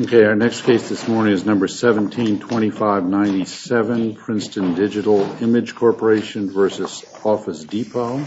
Okay, our next case this morning is number 172597, Princeton Digital Image Corporation v. Office Depot.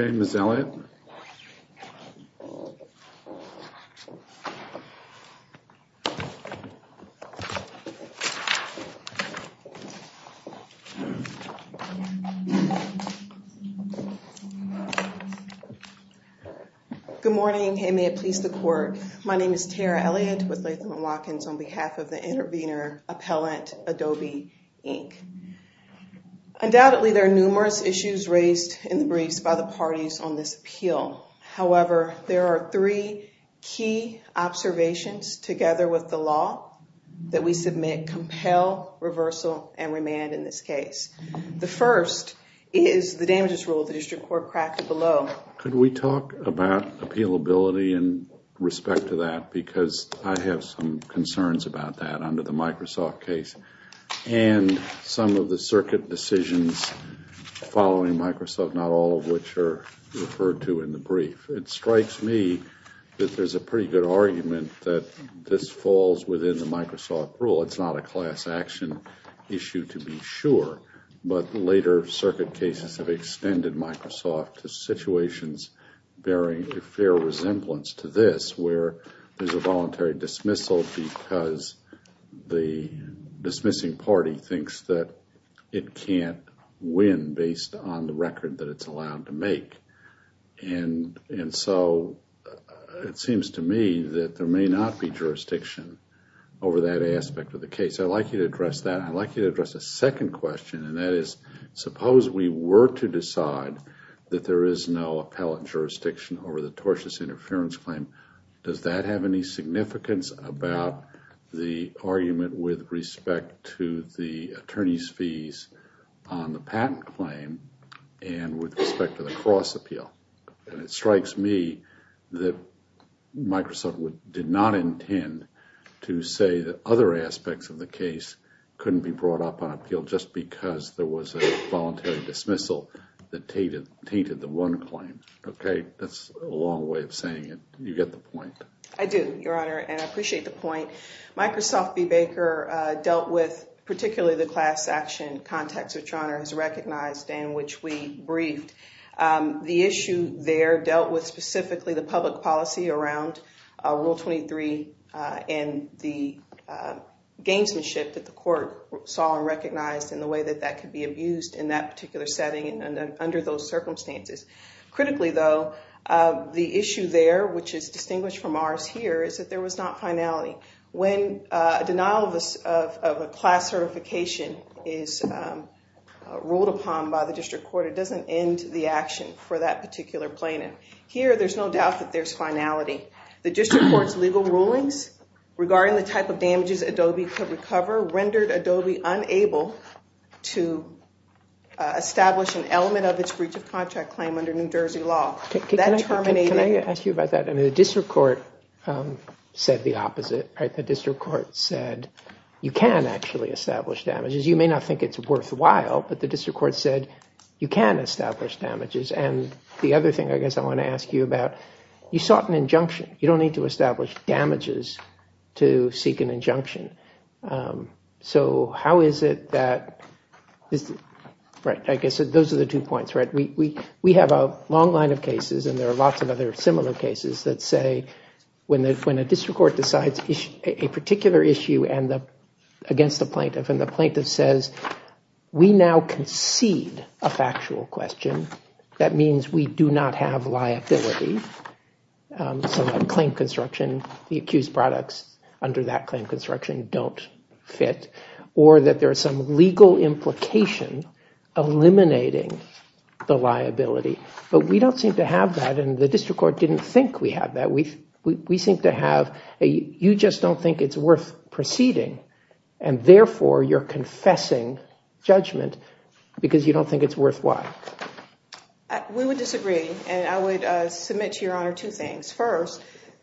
Okay, Ms. Elliott. Good morning. May I please report? My name is Tiara Elliott with Lakeland Watkins on behalf of the intervener appellant, Adobe Inc. Undoubtedly, there are numerous issues raised and briefed by the parties on this appeal. However, there are three key observations together with the law that we submit compel reversal and remand in this case. The first is the damages rule that is your court practice below. Could we talk about appealability in respect to that because I have some concerns about that under the Microsoft case and some of the circuit decisions following Microsoft, not all of which are referred to in the brief. It strikes me that there's a pretty good argument that this falls within the Microsoft rule. It's not a class action issue to be sure, but later circuit cases have extended Microsoft to situations bearing a fair resemblance to this where there's a voluntary dismissal because the dismissing party thinks that it can't win based on the record that it's allowed to make. And so, it seems to me that there may not be jurisdiction over that aspect of the case. I'd like you to address that. I'd like you to address a second question and that is, suppose we were to decide that there is no appellate jurisdiction over the tortious interference claim, does that have any significance about the argument with respect to the attorney's fees on the patent claim and with respect to the cross appeal? And it strikes me that Microsoft did not intend to say that other aspects of the case couldn't be brought up on appeal just because there was a voluntary dismissal that tainted the one claim. Okay. That's a long way of saying it. You get the point. I do, Your Honor, and I appreciate the point. Microsoft v. Baker dealt with particularly the class action context, which Your Honor has recognized and which we briefed. The issue there dealt with specifically the public policy around Rule 23 and the gamesmanship that the court saw and recognized and the way that that could be abused in that particular setting and under those circumstances. Critically though, the issue there, which is distinguished from ours here, is that there was not finality. When a denial of a class certification is ruled upon by the district court, it doesn't end the action for that particular plaintiff. Here there's no doubt that there's finality. The district court's legal rulings regarding the type of damages Adobe could recover rendered Adobe unable to establish an element of its breach of contract claim under New Jersey law. That terminated... Can I ask you about that? The district court said the opposite. The district court said you can actually establish damages. You may not think it's worthwhile, but the district court said you can establish damages. The other thing I guess I want to ask you about, you sought an injunction. You don't need to establish damages to seek an injunction. How is it that... Those are the two points. We have a long line of cases and there are lots of other similar cases that say when a district court decides a particular issue against the plaintiff and the plaintiff says, we now concede a factual question. That means we do not have liability to a claim construction. The accused products under that claim construction don't fit or that there's some legal implication eliminating the liability, but we don't seem to have that and the district court didn't think we had that. We seem to have... You just don't think it's worth proceeding and therefore you're confessing judgment because you don't think it's worthwhile. We would disagree and I would submit to your honor two things. First,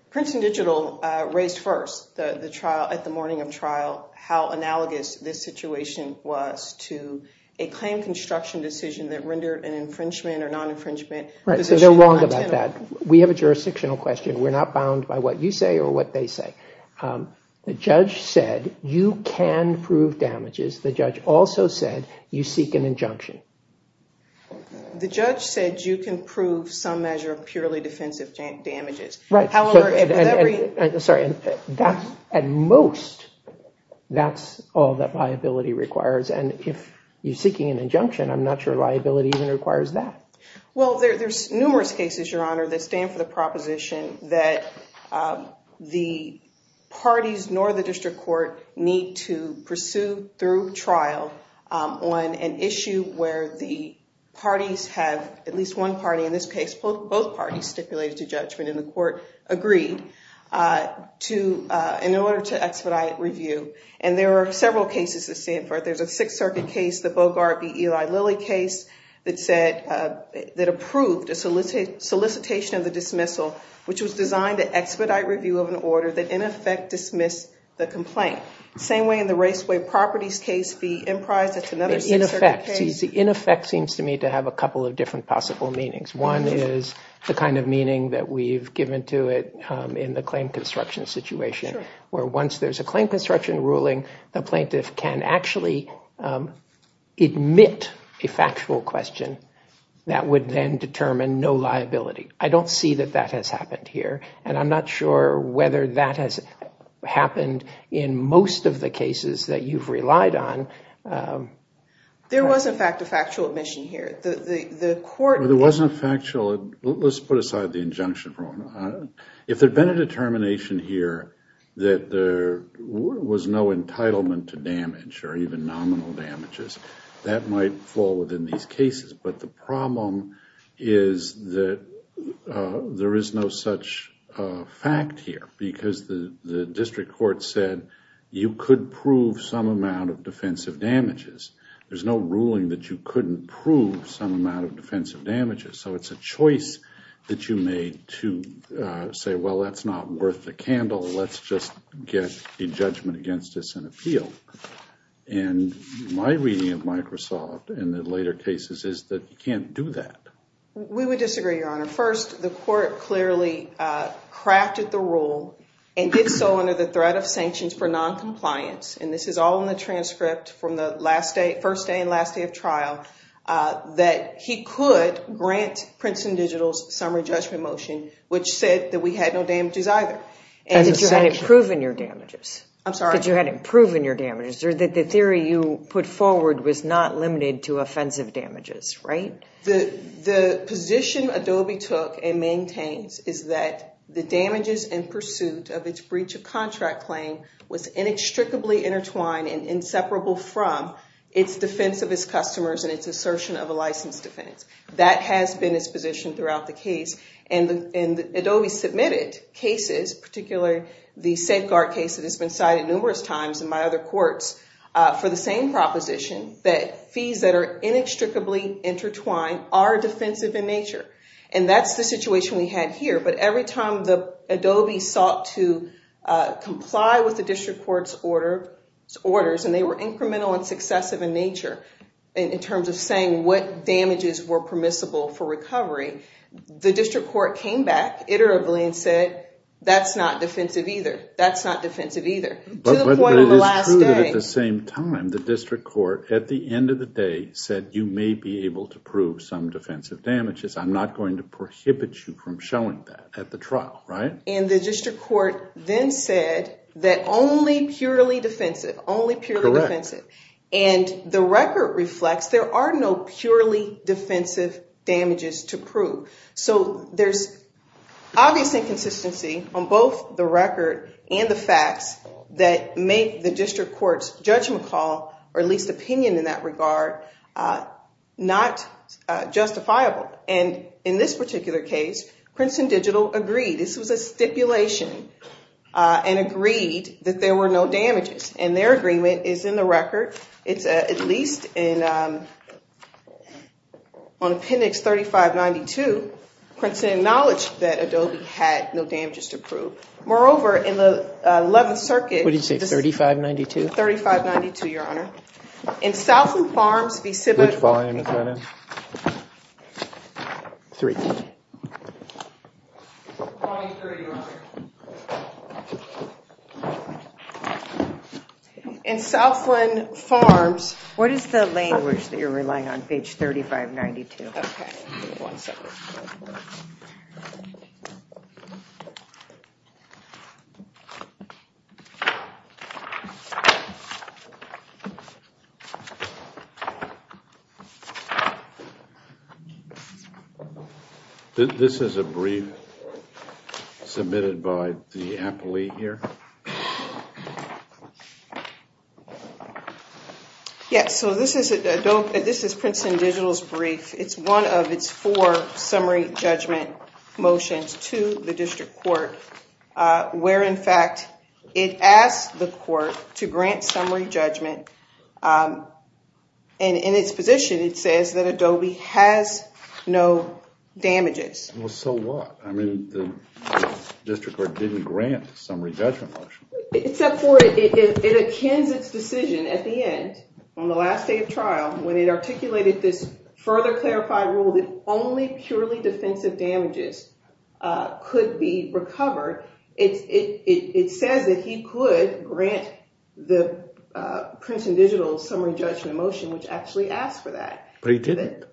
Princeton Digital raised first at the morning of trial how analogous this situation was to a claim construction decision that rendered an infringement or non-infringement position. They're wrong about that. We have a jurisdictional question. We're not bound by what you say or what they say. The judge said you can prove damages. The judge also said you seek an injunction. The judge said you can prove some measure of purely defensive damages. Sorry, that's at most, that's all that liability requires and if you're seeking an injunction, I'm not sure liability even requires that. Well, there's numerous cases, your honor, that stand for the proposition that the parties nor the district court need to pursue through trial on an issue where the parties have, at least one party in this case, both parties stipulated a judgment and the court agreed to in order to expedite review and there are several cases that stand for it. There's a Sixth Circuit case, the Bogart v. Eli Lilly case that said, that approved a solicitation of the dismissal which was designed to expedite review of an order that in effect dismissed the complaint. Same way in the Raceway Properties case, the Impris, that's another Sixth Circuit case. The in effect seems to me to have a couple of different possible meanings. One is the kind of meaning that we've given to it in the claim construction situation where once there's a claim construction ruling, the plaintiff can actually admit a factual question that would then determine no liability. I don't see that that has happened here and I'm not sure whether that has happened in most of the cases that you've relied on. There was in fact a factual admission here. The court... There wasn't a factual... Let's put aside the injunction for a moment. If there'd been a determination here that there was no entitlement to damage or even nominal damages, that might fall within these cases. But the problem is that there is no such fact here because the district court said you could prove some amount of defensive damages. There's no ruling that you couldn't prove some amount of defensive damages. So it's a choice that you made to say, well, that's not worth the candle. Let's just get a judgment against this and appeal. And my reading of Microsoft in the later cases is that you can't do that. We would disagree, Your Honor. First, the court clearly crafted the rule and did so under the threat of sanctions for noncompliance. And this is all in the transcript from the first day and last day of trial that he could grant Princeton Digital's summary judgment motion, which said that we had no damages either. And that you hadn't proven your damages. I'm sorry? That you hadn't proven your damages. Or that the theory you put forward was not limited to offensive damages, right? The position Adobe took and maintains is that the damages in pursuit of its breach of contract claim was inextricably intertwined and inseparable from its defense of its customers and its assertion of a license defense. That has been its position throughout the case. And Adobe submitted cases, particularly the safeguard case that has been cited numerous times in my other courts, for the same proposition that fees that are inextricably intertwined are defensive in nature. And that's the situation we had here. But every time Adobe sought to comply with the district court's orders, and they were permissible for recovery, the district court came back iteratively and said, that's not defensive either. That's not defensive either. To the point of the last day. But they did prove it at the same time. The district court, at the end of the day, said, you may be able to prove some defensive damages. I'm not going to prohibit you from showing that at the trial, right? And the district court then said that only purely defensive. Only purely defensive. Correct. And the record reflects there are no purely defensive damages to prove. So there's obvious inconsistency on both the record and the facts that make the district court's judgment call, or at least opinion in that regard, not justifiable. And in this particular case, Princeton Digital agreed. This was a stipulation and agreed that there were no damages. And their agreement is in the record. It's at least on appendix 3592, Princeton acknowledged that Adobe had no damages to prove. Moreover, in the 11th circuit. What did you say? 3592? 3592, Your Honor. In Southland Farms, the civics. Which volume is that in? 3. Volume 3, Your Honor. In Southland Farms. What is the language that you're relying on, page 3592? Okay. This is a brief submitted by the appellee here. Yes. So this is Princeton Digital's brief. It's one of its four summary judgment motions to the district court, where, in fact, it asked the court to grant summary judgment. And in its position, it says that Adobe has no damages. Well, so what? I mean, the district court didn't grant the summary judgment motion. Except for it attains its decision at the end, on the last day of trial, when it articulated its further clarified rule that only purely defensive damages could be recovered. It says that he could grant the Princeton Digital's summary judgment motion, which actually asked for that. But he didn't?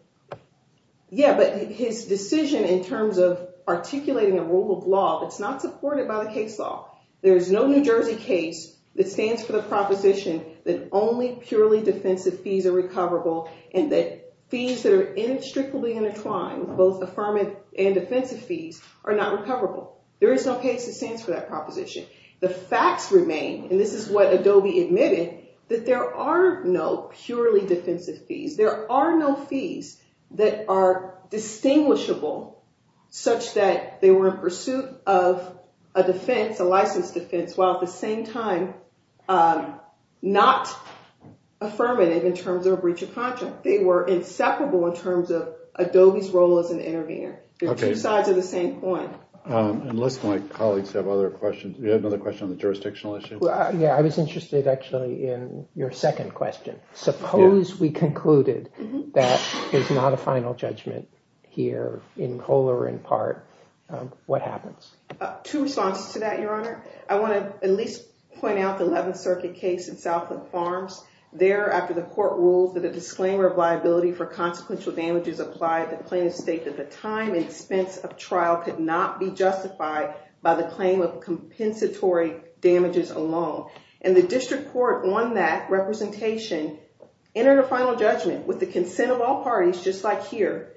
Yeah, but his decision in terms of articulating a rule of law that's not supported by the case law. There's no New Jersey case that stands for the proposition that only purely defensive fees are recoverable, and that fees that are inextricably intertwined, both affirmative and defensive fees, are not recoverable. There is no case that stands for that proposition. The facts remain, and this is what Adobe admitted, that there are no purely defensive fees. There are no fees that are distinguishable, such that they were in pursuit of a defense, a license defense, while at the same time, not affirmative in terms of a breach of contract. They were inseparable in terms of Adobe's role as an intervener. They're two sides of the same coin. It looks like colleagues have other questions. You had another question on the jurisdictional issue? Yeah, I was interested, actually, in your second question. Suppose we concluded that there's not a final judgment here in full or in part. What happens? Two sides to that, Your Honor. I want to at least point out the 11th Circuit case in Southland Farms. There, after the court ruled that a disclaimer of liability for consequential damages applied to plaintiffs states that the time and expense of trial could not be justified by the claim of compensatory damages alone. And the district court, on that representation, entered a final judgment with the consent of all parties, just like here,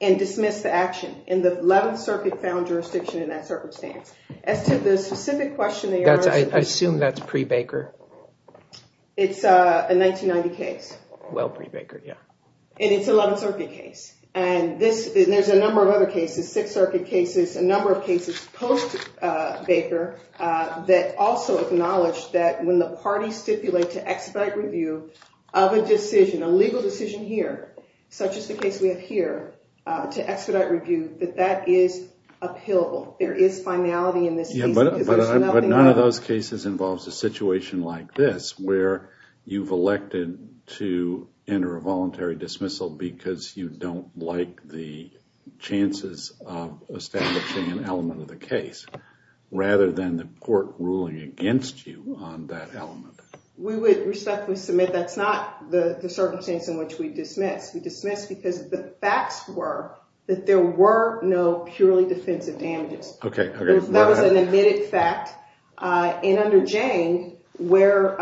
and dismissed the action. And the 11th Circuit found jurisdiction in that circumstance. As to the specific question, Your Honor. I assume that's pre-Baker. It's a 1990 case. Well, pre-Baker, yeah. And it's an 11th Circuit case. And there's a number of other cases, 6th Circuit cases, a number of cases post-Baker, that also acknowledge that when the parties stipulate to expedite review of a decision, a legal decision here, such as the case we have here, to expedite review, that that is appealable. There is finality in this case. But none of those cases involves a situation like this, where you've elected to enter a voluntary dismissal because you don't like the chances of establishing an element of the case, rather than the court ruling against you on that element. We would respectfully submit that's not the circumstance in which we dismissed. We dismissed because the facts were that there were no purely defensive damages. That was an admitted fact. And under James, where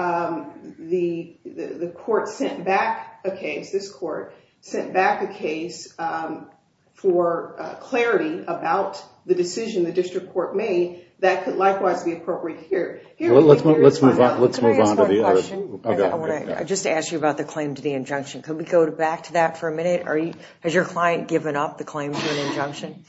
the court sent back a case, this court sent back a case for clarity about the decision the district court made, that could likewise be appropriate here. Let's move on to the others. I just want to ask you about the claim to the injunction. Could we go back to that for a minute? Has your client given up the claim to an injunction?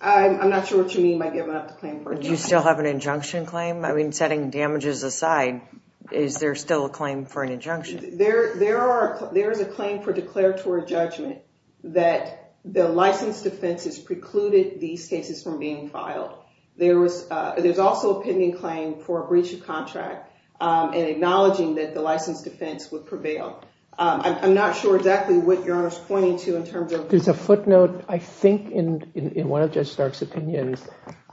I'm not sure what you mean by giving up the claim for an injunction. Do you still have an injunction claim? I mean, setting damages aside, is there still a claim for an injunction? There is a claim for declaratory judgment that the licensed offenses precluded these cases from being filed. There's also a pending claim for a breach of contract and acknowledging that the licensed offense would prevail. I'm not sure exactly what you're pointing to in terms of... There's a footnote, I think, in one of Judge Stark's opinions,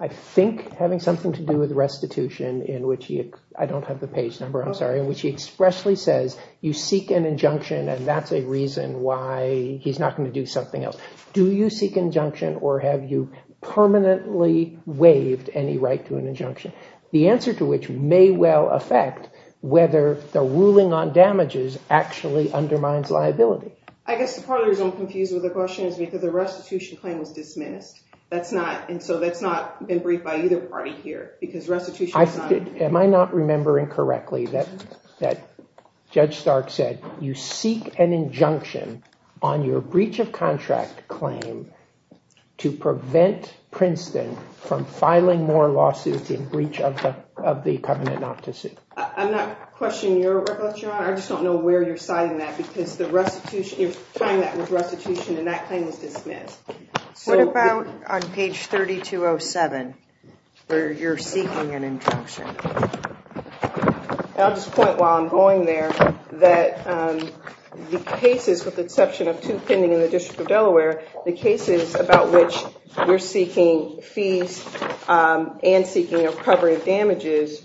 I think having something to do with restitution in which he, I don't have the page number, I'm sorry, in which he expressly says you seek an injunction and that's a reason why he's not going to do something else. Do you seek injunction or have you permanently waived any right to an injunction? The answer to which may well affect whether the ruling on damages actually undermines liability. I guess part of what I'm confused with the question is because the restitution claim was dismissed, that's not, and so that's not been briefed by either party here because restitution... Am I not remembering correctly that Judge Stark said you seek an injunction on your breach of contract claim to prevent Princeton from filing more lawsuits in breach of the covenant not to sue? I'm not questioning your work on that, John. I just don't know where you're signing that because the restitution, you're signing that with restitution and that claim was dismissed. What about on page 3207 where you're seeking an injunction? I'll just point while I'm going there that the cases with the exception of two pending in the District of Delaware, the cases about which you're seeking fees and seeking recovery of damages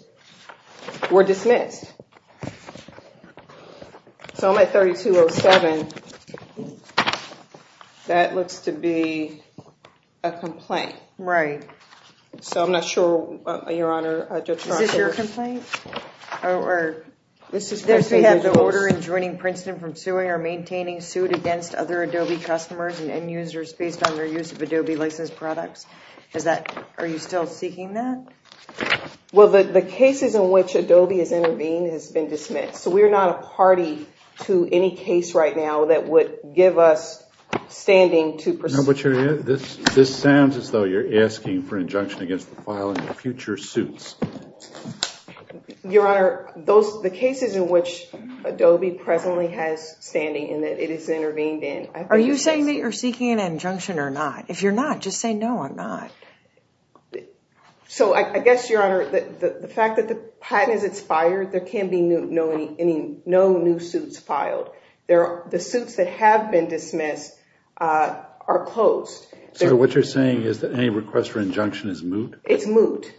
were dismissed. So on my 3207, that looks to be a complaint. Right. So I'm not sure, Your Honor, Judge Stark... Is this your complaint? Or this is... Does she have to order in joining Princeton from suing or maintaining suit against other Adobe customers and end users based on their use of Adobe licensed products? Are you still seeking that? Well, the cases in which Adobe has intervened has been dismissed. So we're not a party to any case right now that would give us standing to... This sounds as though you're asking for injunction against the filing of future suits. Your Honor, the cases in which Adobe presently has standing and that it has intervened in... Are you saying that you're seeking an injunction or not? If you're not, just say no or not. So I guess, Your Honor, the fact that the patent is expired, there can be no new suits filed. The suits that have been dismissed are opposed. So what you're saying is that any request for injunction is moot? It's moot.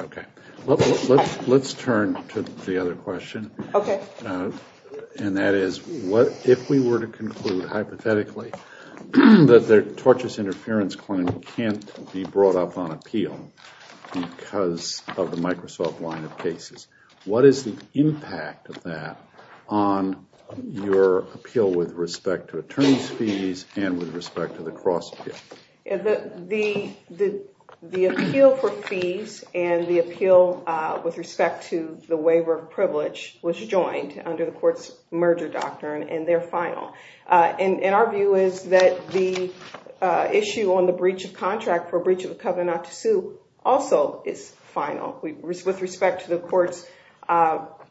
Okay. Let's turn to the other question. Okay. And that is, if we were to conclude hypothetically that the tortious interference claim can't be brought up on appeal because of the Microsoft line of cases, what is the impact of that on your appeal with respect to attorney's fees and with respect to the cross-fee? The appeal for fees and the appeal with respect to the waiver of privilege was joined under the court's merger doctrine and they're final. And our view is that the issue on the breach of contract for breach of the covenant to sue also is final. With respect to the court's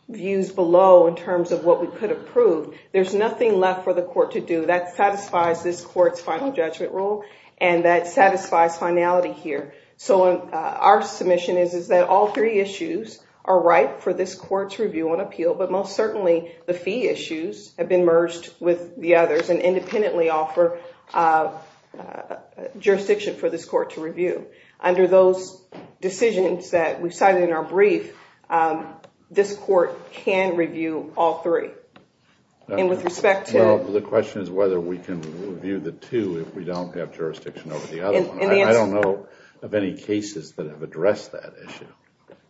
views below in terms of what we could approve, there's nothing left for the court to do. That satisfies this court's final judgment rule and that satisfies finality here. So our submission is that all three issues are right for this court to review on appeal, but most certainly the fee issues have been merged with the others and independently offer jurisdiction for this court to review. Under those decisions that we cited in our brief, this court can review all three. And with respect to... The question is whether we can review the two if we don't have jurisdiction over the other one. I don't know of any cases that have addressed that issue.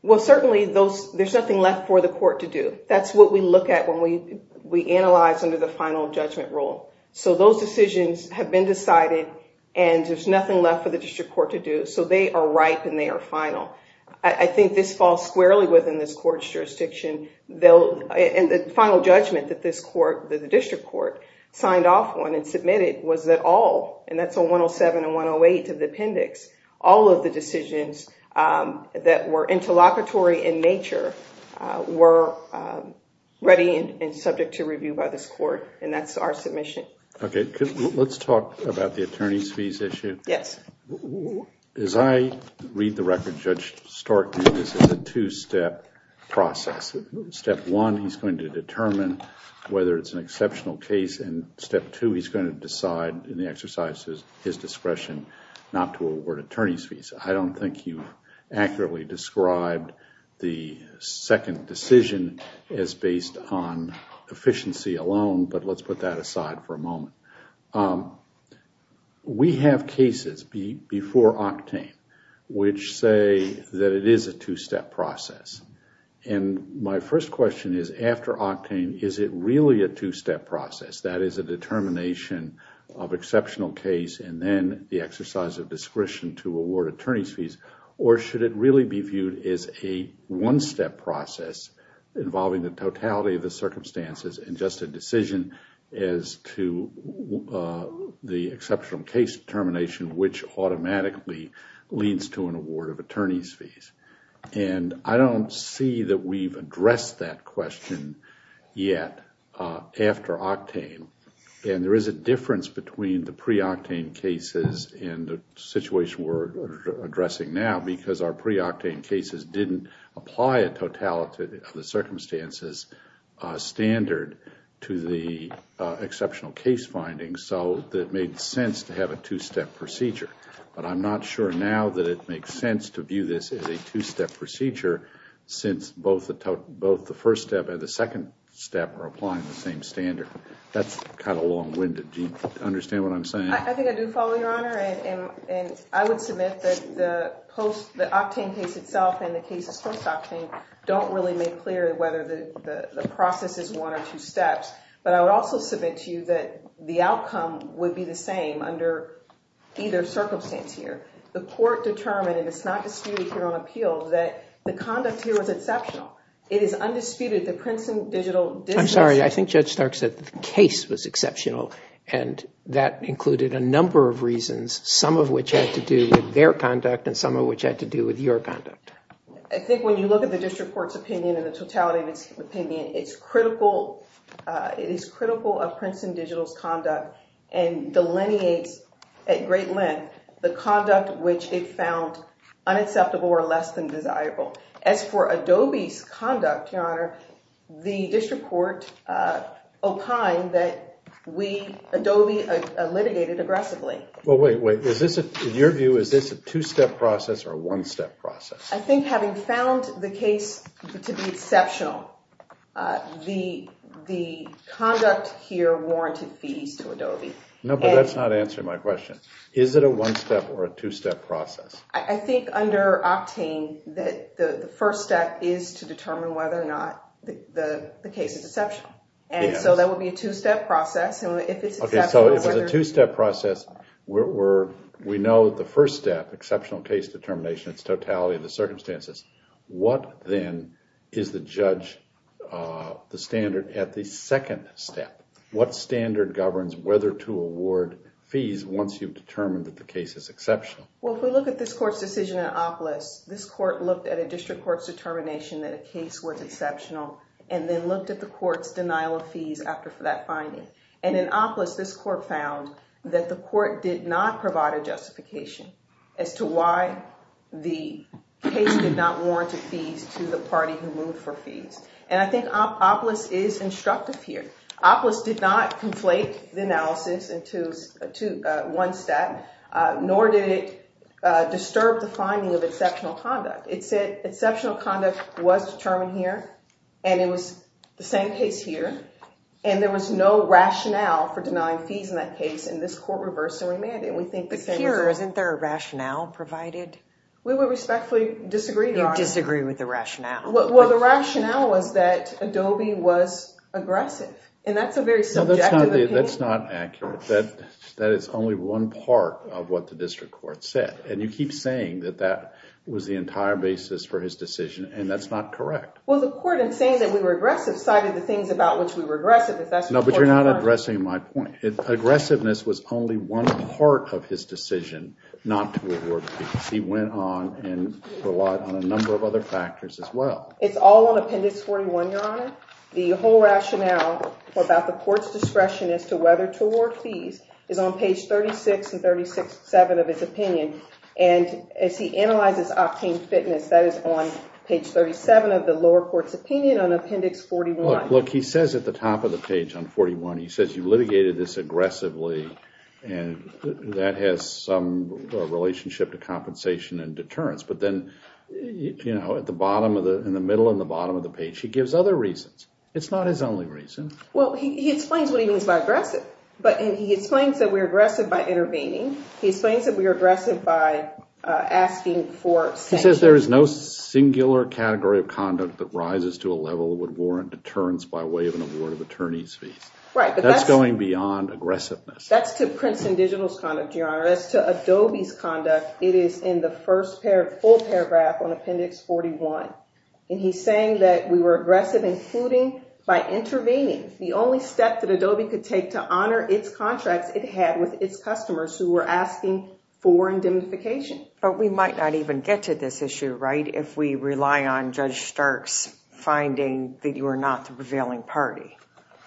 Well, certainly there's nothing left for the court to do. That's what we look at when we analyze under the final judgment rule. So those decisions have been decided and there's nothing left for the district court to do. So they are right and they are final. I think this falls squarely within this court's jurisdiction. And the final judgment that this court, the district court, signed off on and submitted was that all, and that's on 107 and 108 to the appendix, all of the decisions that were interlocutory in nature were ready and subject to review by this court, and that's our submission. Okay. Let's talk about the attorney's fees issue. Yes. As I read the record, Judge Stork, this is a two-step process. Step one, he's going to determine whether it's an exceptional case, and step two, he's going to decide in the exercises his discretion not to award attorney's fees. I don't think you accurately described the second decision as based on efficiency alone, but let's put that aside for a moment. We have cases before octane which say that it is a two-step process. And my first question is, after octane, is it really a two-step process? That is a determination of exceptional case and then the exercise of discretion to award attorney's fees, or should it really be viewed as a one-step process involving the totality of the circumstances and just a the exceptional case determination which automatically leans to an award of attorney's fees? And I don't see that we've addressed that question yet after octane. And there is a difference between the pre-octane cases and the situation we're addressing now because our pre-octane cases didn't apply a totality of the circumstances standard to the exceptional case findings, so it made sense to have a two-step procedure. But I'm not sure now that it makes sense to view this as a two-step procedure since both the first step and the second step are applying the same standard. That's kind of long-winded. Do you understand what I'm saying? I think I do follow, Your Honor, and I would submit that the octane case itself and the case of post-octane don't really make clear whether the process is one or two steps. But I would also submit to you that the outcome would be the same under either circumstance here. The court determined, and it's not disputed here on appeal, that the conduct here is exceptional. It is undisputed. The Princeton Digital District... I'm sorry. I think Judge Stark said the case was exceptional, and that included a number of reasons, some of which had to do with their conduct and some of which had to do with your conduct. I think when you look at the district court's opinion and the totality of its opinion, it is critical of Princeton Digital's conduct and delineates at great length the conduct which it found unacceptable or less than desirable. As for Adobe's conduct, Your Honor, the district court opined that Adobe litigated aggressively. Well, wait, wait. In your view, is this a two-step process or a one-step process? I think having found the case to be exceptional, the conduct here warranted fees to Adobe. No, but that's not answering my question. Is it a one-step or a two-step process? I think under octane that the first step is to determine whether or not the case is exceptional. And so that would be a two-step process. Okay, so it's a two-step process. We know the first step, exceptional case determination, it's totality of the circumstances. What then is the judge, the standard at the second step? What standard governs whether to award fees once you've determined that the case is exceptional? Well, if we look at this court's decision in OPLIS, this court looked at a district court's determination that a case was exceptional and then looked at the court's denial of fees after that finding. And in OPLIS, this court found that the court did not provide a justification as to why the case did not warrant a fee to the party who moved for fees. And I think OPLIS is instructive here. OPLIS did not conflate the analysis into one step, nor did it disturb the finding of exceptional conduct. It said exceptional conduct was determined here, and it was the same case here, and there was no rationale for denying fees in that case, and this court reversed and remanded. Isn't there a rationale provided? We respectfully disagree. You disagree with the rationale. Well, the rationale was that Adobe was aggressive, and that's a very subjective opinion. That's not accurate. That is only one part of what the district court said. And you keep saying that that was the entire basis for his decision, and that's not correct. Well, the court, in saying that we were aggressive, cited the things about which we were aggressive. No, but you're not addressing my point. Aggressiveness was only one part of his decision not to award fees. He went on and relied on a number of other factors as well. It's all on Appendix 41, Your Honor. The whole rationale about the court's discretion as to whether to award fees is on page 36 and 37 of his opinion. And if he analyzes octane fitness, that is on page 37 of the lower court's opinion on Appendix 41. Look, he says at the top of the page on 41, he says, you litigated this aggressively, and that has some relationship to compensation and deterrence. But then, you know, at the bottom of the – in the middle and the bottom of the page, he gives other reasons. It's not his only reason. Well, he explains that he was aggressive, but he explains that we were aggressive by intervening. He explains that we were aggressive by asking for – He says there is no singular category of conduct that rises to a level that would warrant deterrence by way of an award of attorney's fees. Right. That's going beyond aggressiveness. That's to Princeton Digital's conduct, Your Honor. That's to Adobe's conduct. It is in the first full paragraph on Appendix 41. And he's saying that we were aggressive in shooting by intervening. The only step that Adobe could take to honor its contract it had with its But we might not even get to this issue, right, if we rely on Judge Stark's finding that you are not the prevailing party,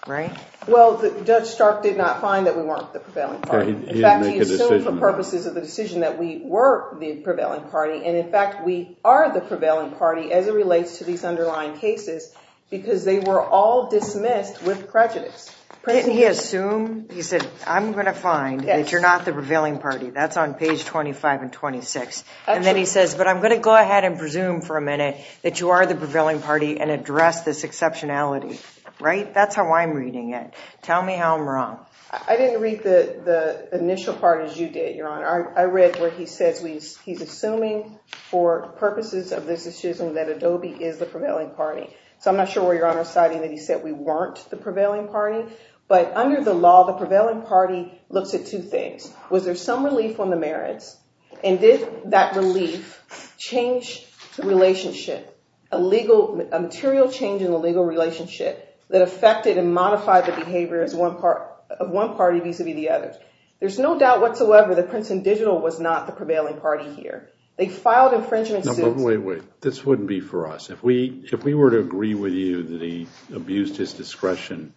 right? Well, Judge Stark did not find that we weren't the prevailing party. He didn't make a decision. In fact, he assumed for purposes of the decision that we were the prevailing party, and, in fact, we are the prevailing party as it relates to these underlying cases because they were all dismissed with prejudice. Didn't he assume? He said, I'm going to find that you're not the prevailing party. That's on page 25 and 26. And then he says, but I'm going to go ahead and presume for a minute that you are the prevailing party and address this exceptionality, right? That's how I'm reading it. Tell me how I'm wrong. I didn't read the initial part as you did, Your Honor. I read what he said. He's assuming for purposes of this decision that Adobe is the prevailing party. So I'm not sure where Your Honor's citing that he said we weren't the prevailing party. But under the law, the prevailing party looked at two things. Was there some relief on the merits? And did that relief change the relationship, a material change in the legal relationship that affected and modified the behavior of one party vis-a-vis the other? There's no doubt whatsoever that Princeton Digital was not the prevailing party here. They filed infringements. Now, wait, wait. This wouldn't be for us. If we were to agree with you that he abused his discretion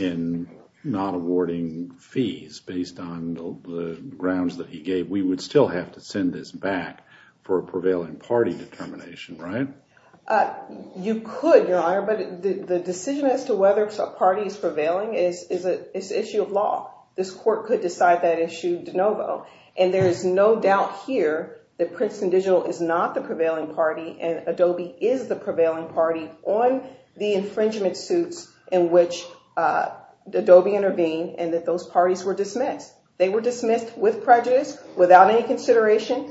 in not awarding fees based on the grounds that he gave, we would still have to send this back for a prevailing party determination, right? You could, Your Honor. But the decision as to whether a party is prevailing is an issue of law. This court could decide that issue de novo. And Adobe is the prevailing party on the infringement suit in which Adobe intervened and that those parties were dismissed. They were dismissed with prejudice, without any consideration.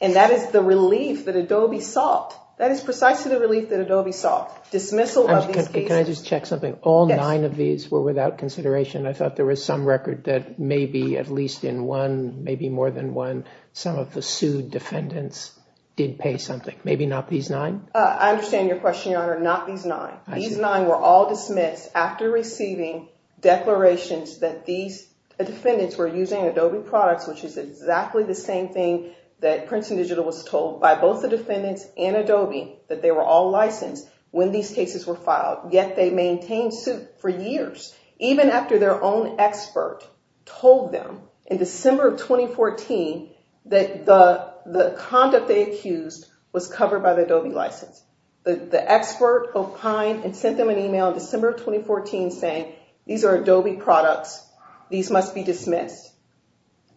And that is the relief that Adobe sought. That is precisely the relief that Adobe sought. Dismissal of these people. Can I just check something? All nine of these were without consideration. I thought there was some record that maybe at least in one, maybe more than one, some of the sued defendants did pay something. Maybe not these nine? I understand your question, Your Honor. Not these nine. These nine were all dismissed after receiving declarations that these defendants were using Adobe products, which is exactly the same thing that Princeton Digital was told by both the defendants and Adobe, that they were all licensed when these cases were filed. Yet they maintained suit for years, even after their own expert told them in December of 2014 that the conduct they accused was covered by the Adobe license. The expert complained and sent them an email in December of 2014 saying, these are Adobe products. These must be dismissed.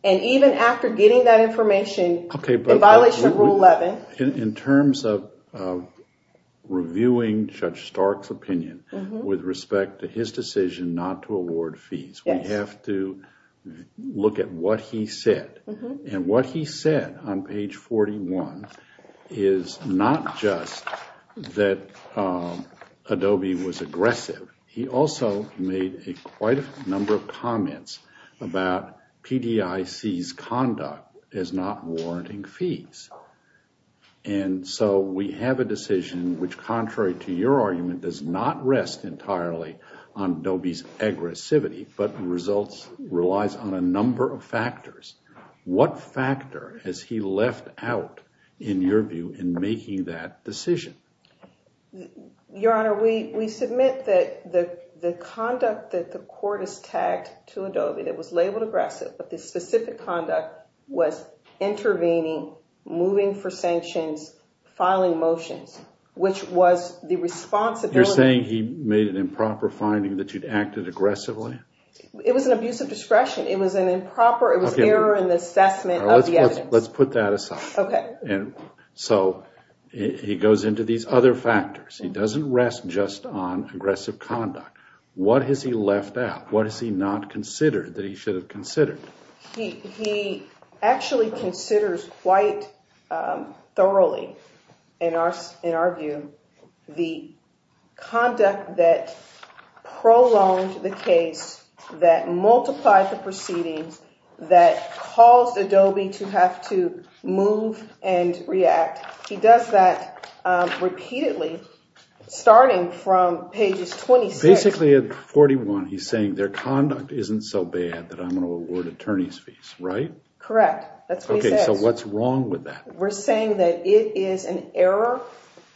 And even after getting that information, they violated Rule 11. In terms of reviewing Judge Stark's opinion with respect to his decision not to award fees, we have to look at what he said. And what he said on page 41 is not just that Adobe was aggressive. He also made quite a number of comments about PDIC's conduct as not warranting fees. And so we have a decision which, contrary to your argument, does not rest entirely on Adobe's aggressivity. But the result relies on a number of factors. What factor has he left out, in your view, in making that decision? Your Honor, we submit that the conduct that the court has tagged to Adobe that was labeled aggressive, but the specific conduct was intervening, moving for sanctions, filing motions, which was the responsibility. You're saying he made an improper finding that you'd acted aggressively? It was an abuse of discretion. It was an improper, it was error in the assessment of the evidence. Let's put that aside. So he goes into these other factors. He doesn't rest just on aggressive conduct. What has he left out? What has he not considered that he should have considered? He actually considers quite thoroughly, in our view, the conduct that prolonged the case, that multiplied the proceedings, that caused Adobe to have to move and react. He does that repeatedly, starting from pages 26. Basically, at 41, he's saying their conduct isn't so bad that I'm going to award attorney's fees, right? Correct. Okay, so what's wrong with that? We're saying that it is an error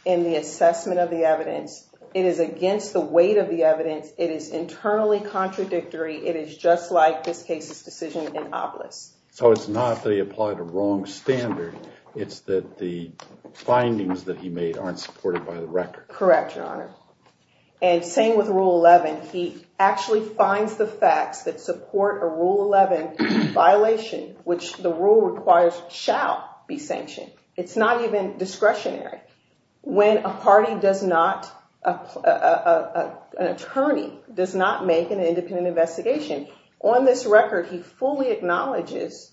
in the assessment of the evidence. It is against the weight of the evidence. It is internally contradictory. It is just like this case's decision in Oblis. So it's not that he applied a wrong standard. It's that the findings that he made aren't supported by the record. Correct, Your Honor. And same with Rule 11. He actually finds the facts that support a Rule 11 violation, which the rule requires shall be sanctioned. It's not even discretionary. When a party does not, an attorney does not make an independent investigation, on this record, he fully acknowledges,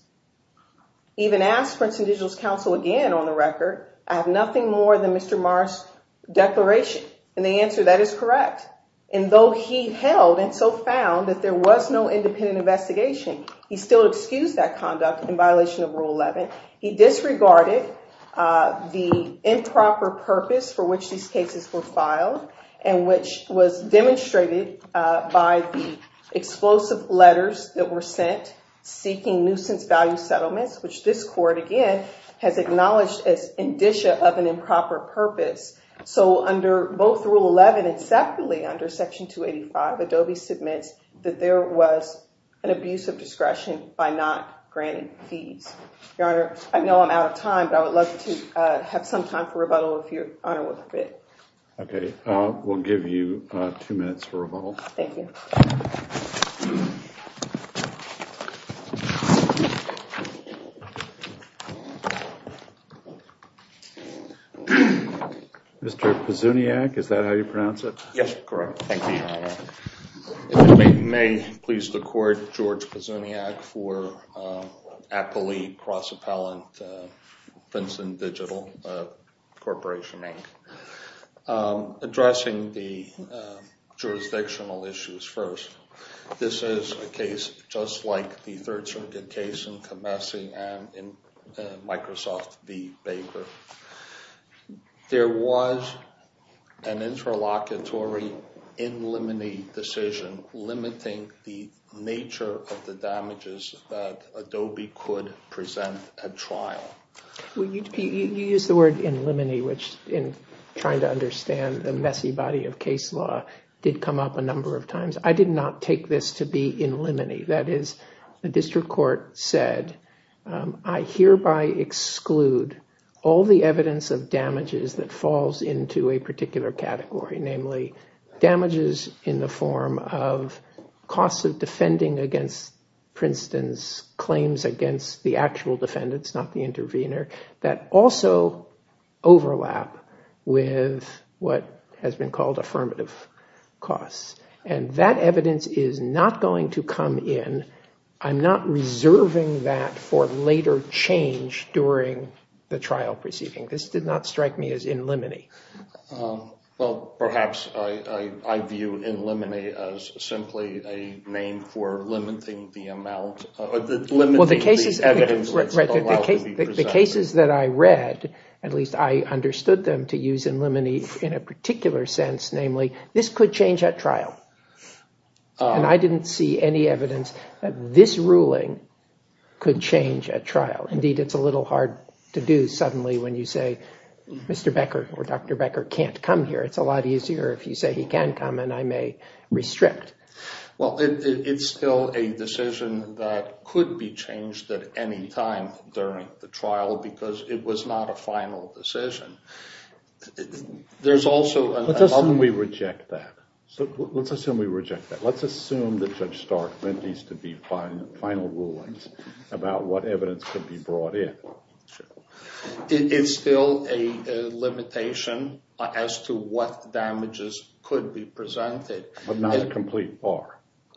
even asks for a judicial counsel again on the record, I have nothing more than Mr. Marsh's declaration. And the answer to that is correct. And though he held and so found that there was no independent investigation, he still excused that conduct in violation of Rule 11. He disregarded the improper purpose for which these cases were filed, and which was demonstrated by the explosive letters that were sent seeking nuisance value settlements, which this court, again, has acknowledged as indicia of an improper purpose. So under both Rule 11 and separately under Section 285, Adobe submits that there was an abuse of discretion by not granting fees. Your Honor, I know I'm out of time, but I would love to have some time for rebuttal if Your Honor would permit. Okay. We'll give you two minutes for rebuttal. Thank you. Mr. Pizzuniac, is that how you pronounce it? Yes, correct. Thank you, Your Honor. If it may please the Court, George Pizzuniac, for appellee cross-appellant Vincent Digital, Corporation 8, addressing the jurisdictional issues first. This is a case just like the third-circuit case in Kamesi and in Microsoft v. Baker. There was an interlocutory in limine decision limiting the nature of the damages that Adobe could present at trial. You used the word in limine, which, in trying to understand the messy body of case law, did come up a number of times. I did not take this to be in limine. That is, the district court said, I hereby exclude all the evidence of damages that falls into a particular category, namely damages in the form of costs of defending against Princeton's claims against the actual defendants, not the intervener, that also overlap with what has been called affirmative costs. And that evidence is not going to come in. I'm not reserving that for later change during the trial proceeding. This did not strike me as in limine. Well, perhaps I view in limine as simply a name for limiting the amount, limiting the evidence that's allowed to be presented. The cases that I read, at least I understood them to use in limine in a particular sense, namely this could change at trial. And I didn't see any evidence that this ruling could change at trial. Indeed, it's a little hard to do suddenly when you say Mr. Becker or Dr. Becker can't come here. It's a lot easier if you say he can come and I may restrict. Well, it's still a decision that could be changed at any time during the trial because it was not a final decision. There's also a limit. Let's assume we reject that. Let's assume we reject that. Let's assume that Judge Stark meant these to be final rulings about what evidence could be brought in. It's still a limitation as to what damages could be presented. But not a complete bar.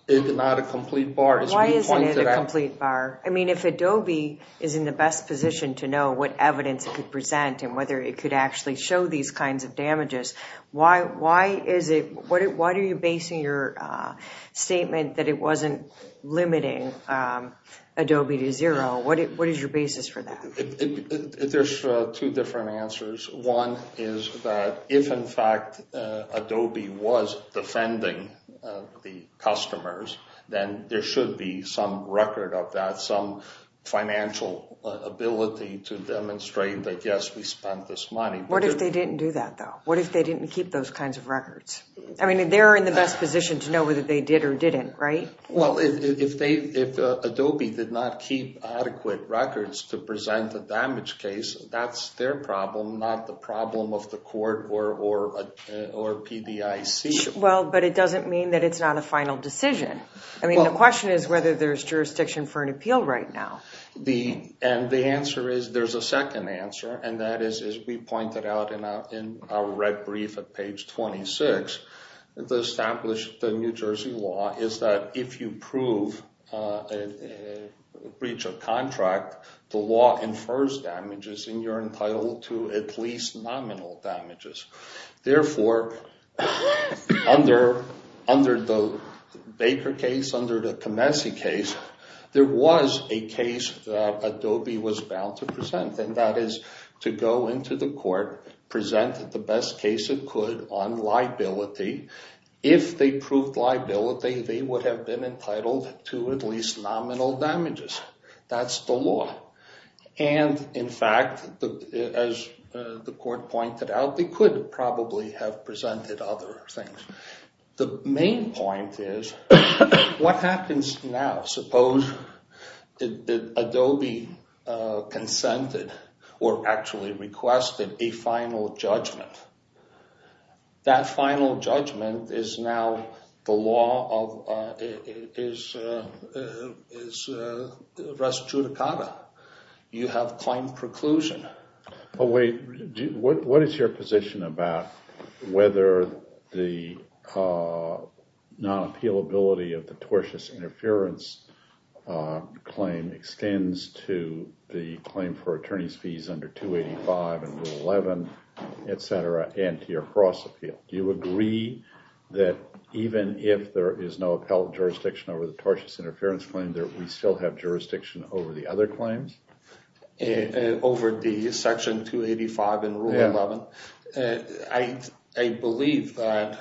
It's not a complete bar. Why isn't it a complete bar? I mean, if Adobe is in the best position to know what evidence it could present and whether it could actually show these kinds of damages, why are you basing your statement that it wasn't limiting Adobe to zero? What is your basis for that? There's two different answers. One is that if, in fact, Adobe was defending the customers, then there should be some record of that, some financial ability to demonstrate that, yes, we spent this money. What if they didn't do that, though? What if they didn't keep those kinds of records? I mean, they're in the best position to know whether they did or didn't, right? Well, if Adobe did not keep adequate records to present the damage case, that's their problem, not the problem of the court or PBIC. Well, but it doesn't mean that it's not a final decision. I mean, the question is whether there's jurisdiction for an appeal right now. And the answer is there's a second answer, and that is, as we pointed out in our red brief at page 26, the established New Jersey law is that if you prove a breach of contract, the law infers damages, and you're entitled to at least nominal damages. Therefore, under the Baker case, under the Comense case, there was a case that Adobe was bound to present, and that is to go into the court, present the best case it could on liability. If they proved liability, they would have been entitled to at least nominal damages. That's the law. And, in fact, as the court pointed out, they could probably have presented other things. The main point is, what happens now? Suppose Adobe consented or actually requested a final judgment. That final judgment is now the law of, is res judicata. You have plain preclusion. Oh, wait. What is your position about whether the non-appealability of the tortious interference claim extends to the claim for attorney's fees under 285 and Rule 11, et cetera, and to your cross-appeal? Do you agree that even if there is no appellate jurisdiction over the tortious interference claim, that we still have jurisdiction over the other claims? Over Section 285 and Rule 11? I believe that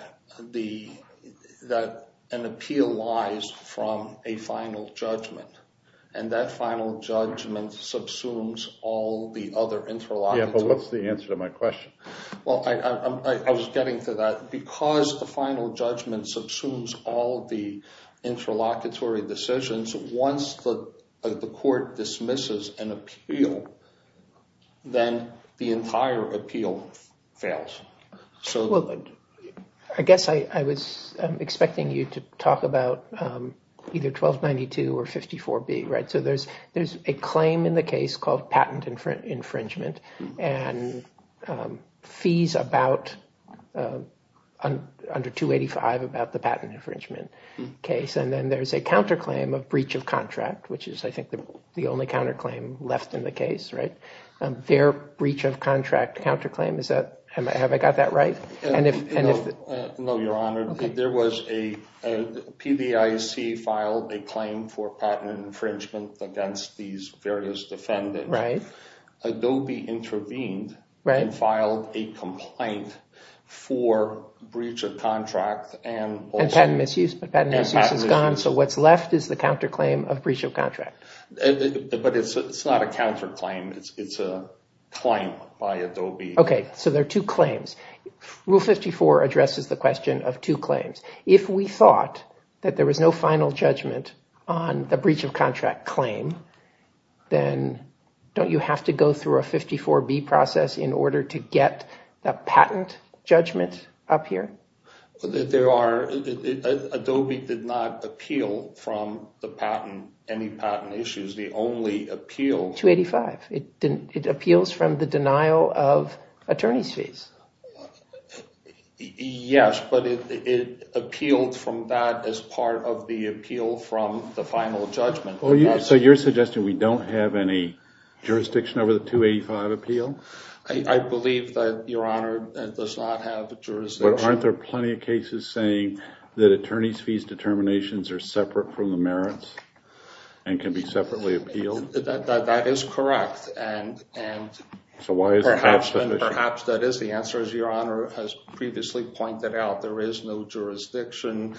an appeal lies from a final judgment. And that final judgment subsumes all the other interlocutory. Yeah, but what's the answer to my question? Well, I was getting to that. Because the final judgment subsumes all the interlocutory decisions, once the court dismisses an appeal, then the entire appeal fails. I guess I was expecting you to talk about either 1292 or 54B. So there's a claim in the case called patent infringement and fees under 285 about the patent infringement case. And then there's a counterclaim of breach of contract, which is, I think, the only counterclaim left in the case. Their breach of contract counterclaim, have I got that right? No, Your Honor. PBIC filed a claim for patent infringement against these various defendants. Adobe intervened and filed a complaint for breach of contract. And patent misuse is gone. So what's left is the counterclaim of breach of contract. But it's not a counterclaim. It's a claim by Adobe. OK, so there are two claims. Rule 54 addresses the question of two claims. If we thought that there was no final judgment on the breach of contract claim, then don't you have to go through a 54B process in order to get the patent judgment up here? There are. Adobe did not appeal from the patent, any patent issues. The only appeal. 285. It appeals from the denial of attorney's fees. Yes, but it appealed from that as part of the appeal from the final judgment. So you're suggesting we don't have any jurisdiction over the 285 appeal? I believe that, Your Honor, it does not have a jurisdiction. But aren't there plenty of cases saying that attorney's fees determinations are separate from the merits and can be separately appealed? That is correct. And perhaps that is the answer, as Your Honor has previously pointed out. There is no jurisdiction,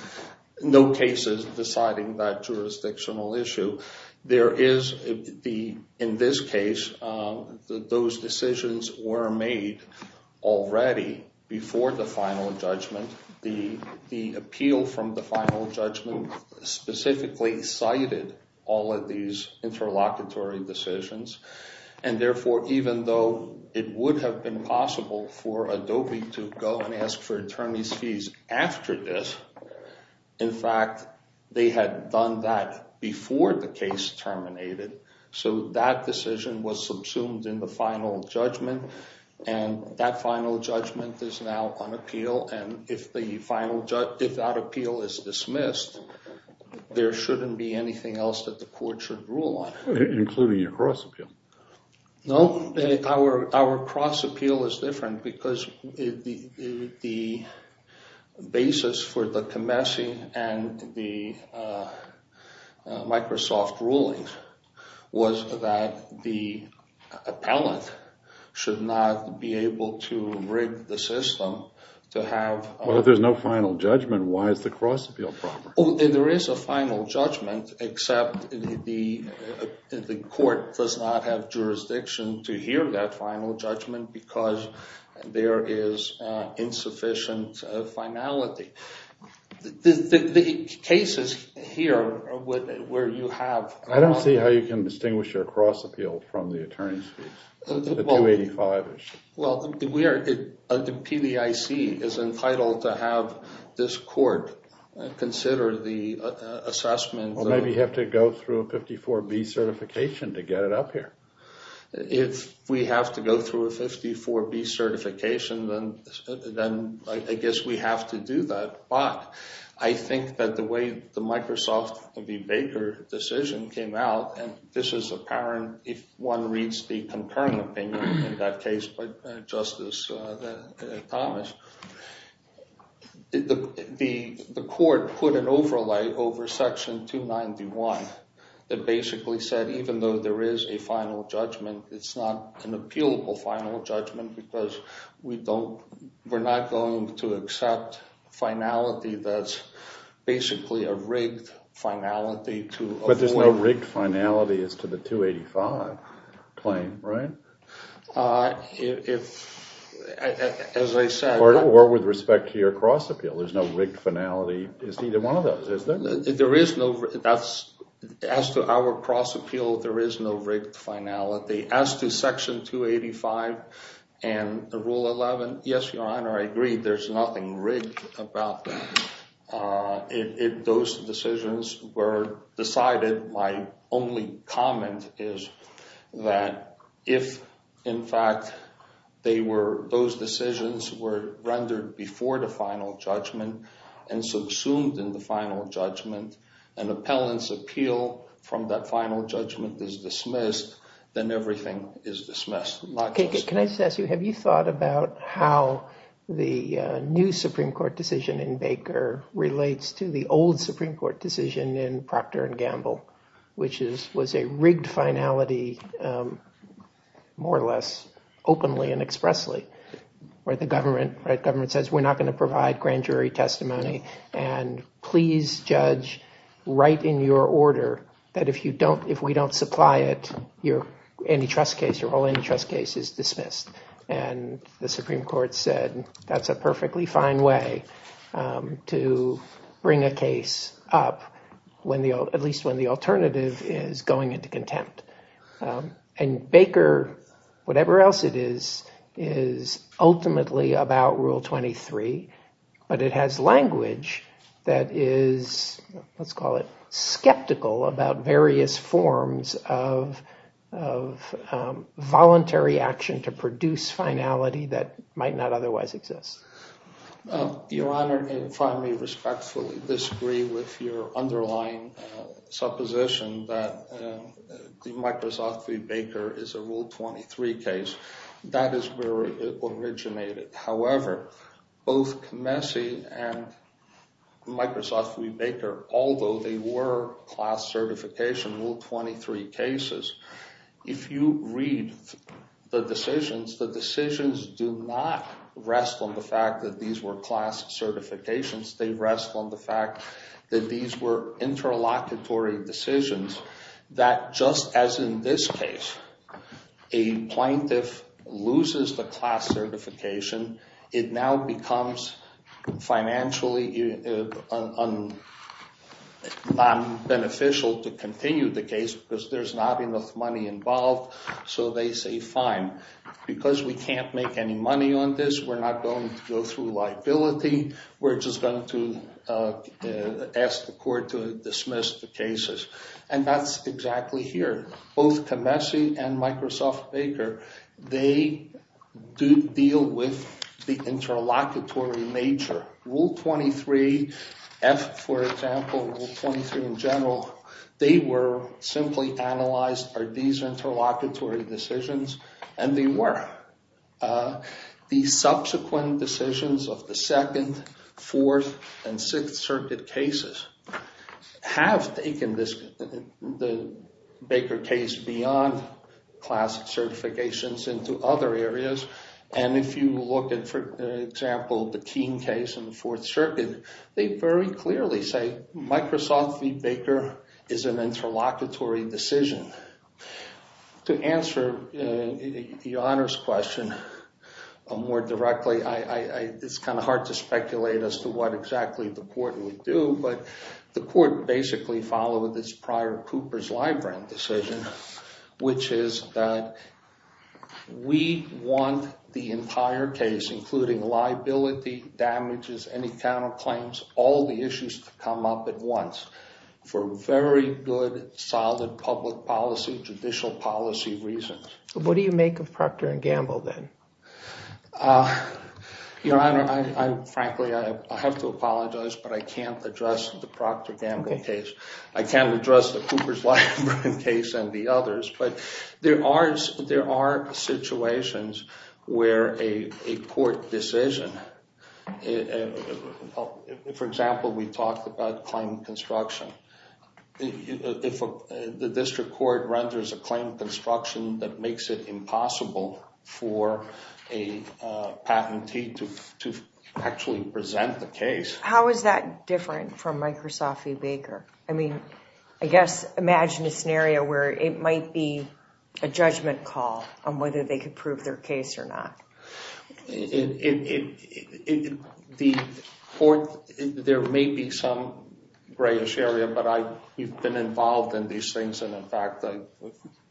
no cases deciding that jurisdictional issue. There is, in this case, those decisions were made already before the final judgment. The appeal from the final judgment specifically cited all of these interlocutory decisions. And therefore, even though it would have been possible for Adobe to go and ask for attorney's fees after this, in fact, they had done that before the case terminated. So that decision was subsumed in the final judgment. And that final judgment is now on appeal. And if that appeal is dismissed, there shouldn't be anything else that the court should rule on. Including your cross-appeal. No, our cross-appeal is different because the basis for the Comessi and the Microsoft rulings was that the appellant should not be able to rig the system to have a- Well, if there's no final judgment, why is the cross-appeal? There is a final judgment, except the court does not have jurisdiction to hear that final judgment because there is insufficient finality. The cases here where you have- I don't see how you can distinguish your cross-appeal from the attorney's fees. The 285 or something. Well, the PBIC is entitled to have this court consider the assessment. Well, maybe you have to go through a 54B certification to get it up here. If we have to go through a 54B certification, then I guess we have to do that. But I think that the way the Microsoft or the Baker decision came out, and this is apparent if one reads the concurrent opinion in that case by Justice Thomas, the court put an overlay over Section 291 that basically said, even though there is a final judgment, it's not an appealable final judgment because we're not going to accept finality that's basically a rigged finality to- But there's no rigged finality as to the 285 claim, right? As I said- Or with respect to your cross-appeal, there's no rigged finality. It's either one of those, isn't it? There is no- As to our cross-appeal, there is no rigged finality. As to Section 285 and Rule 11, yes, Your Honor, I agree. There's nothing rigged about those decisions were decided. My only comment is that if, in fact, those decisions were rendered before the final judgment and subsumed in the final judgment and the appellant's appeal from that final judgment is dismissed, then everything is dismissed. Can I just ask you, have you thought about how the new Supreme Court decision in Baker relates to the old Supreme Court decision in Procter & Gamble, which was a rigged finality, more or less, openly and expressly, where the government says, we're not going to provide grand jury testimony and please judge right in your order that if we don't supply it, your antitrust case, your whole antitrust case is dismissed. And the Supreme Court said, that's a perfectly fine way to bring a case up, at least when the alternative is going into contempt. And Baker, whatever else it is, is ultimately about Rule 23, but it has language that is, let's call it skeptical about various forms of voluntary action to produce finality that might not otherwise exist. Your Honor, and if I may respectfully disagree with your underlying supposition that the Microsoft v. Baker is a Rule 23 case, that is where it originated. However, both Messe and Microsoft v. Baker, although they were class certification Rule 23 cases, if you read the decisions, the decisions do not rest on the fact that these were class certifications. They rest on the fact that these were interlocutory decisions that just as in this case, a plaintiff loses the class certification, it now becomes financially beneficial to continue the case because there's not enough money involved, so they say, fine, because we can't make any money on this, we're not going to go through liability, we're just going to ask the court to dismiss the cases. And that's exactly here. Both to Messe and Microsoft v. Baker, they do deal with the interlocutory nature. Rule 23, for example, Rule 23 in general, they were simply analyzed are these interlocutory decisions, and they were. The subsequent decisions of the Second, Fourth, and Sixth Circuit cases have taken the Baker case beyond class certifications into other areas, and if you look at, for example, the Keene case in the Fourth Circuit, they very clearly say Microsoft v. Baker is an interlocutory decision. To answer the honors question more directly, it's kind of hard to speculate as to what exactly the court would do, but the court basically followed this prior Cooper's-Lybrand decision, which is that we want the entire case, including liability, damages, any counterclaims, all the issues to come up at once for very good, solid public policy, judicial policy reasons. What do you make of Proctor and Gamble, then? Frankly, I have to apologize, but I can't address the Proctor-Gamble case. I can't address the Cooper's-Lybrand case and the others, but there are situations where a court decision, for example, we talk about claim construction. The district court renders a claim construction that makes it impossible for a patentee to actually present the case. How is that different from Microsoft v. Baker? I mean, I guess, imagine a scenario where it might be a judgment call on whether they could prove their case or not. There may be some grayish area, but I've been involved in these things, and in fact, I...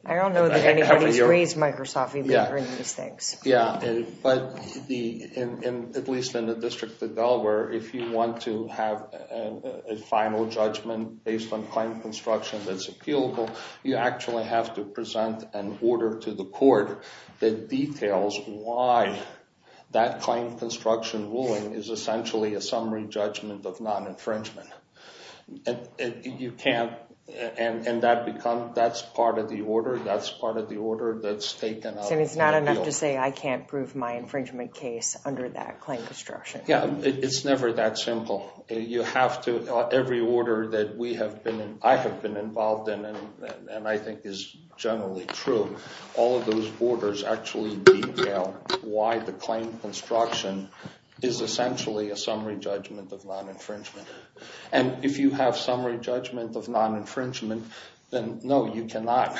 I don't know that anybody's raised Microsoft v. Baker in these things. Yeah, but at least in the District of Delaware, if you want to have a final judgment based on claim construction that's appealable, you actually have to present an order to the court that details why that claim construction ruling is essentially a summary judgment of non-infringement. You can't... And that becomes... That's part of the order. That's part of the order that's taken out of appeal. And it's not enough to say, I can't prove my infringement case under that claim construction. Yeah, it's never that simple. You have to... Every order that we have been... I have been involved in, and I think is generally true, all of those orders actually detail why the claim construction is essentially a summary judgment of non-infringement. And if you have summary judgment of non-infringement, then, no, you cannot...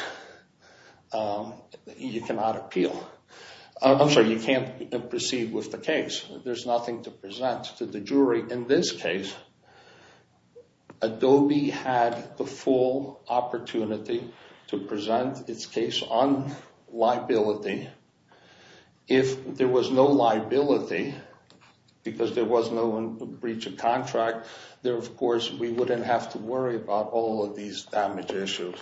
You cannot appeal. I'm sorry, you can't proceed with the case. There's nothing to present to the jury. In this case, Adobe had the full opportunity to present its case on liability. If there was no liability, because there was no breach of contract, then, of course, we wouldn't have to worry about all of these damage issues.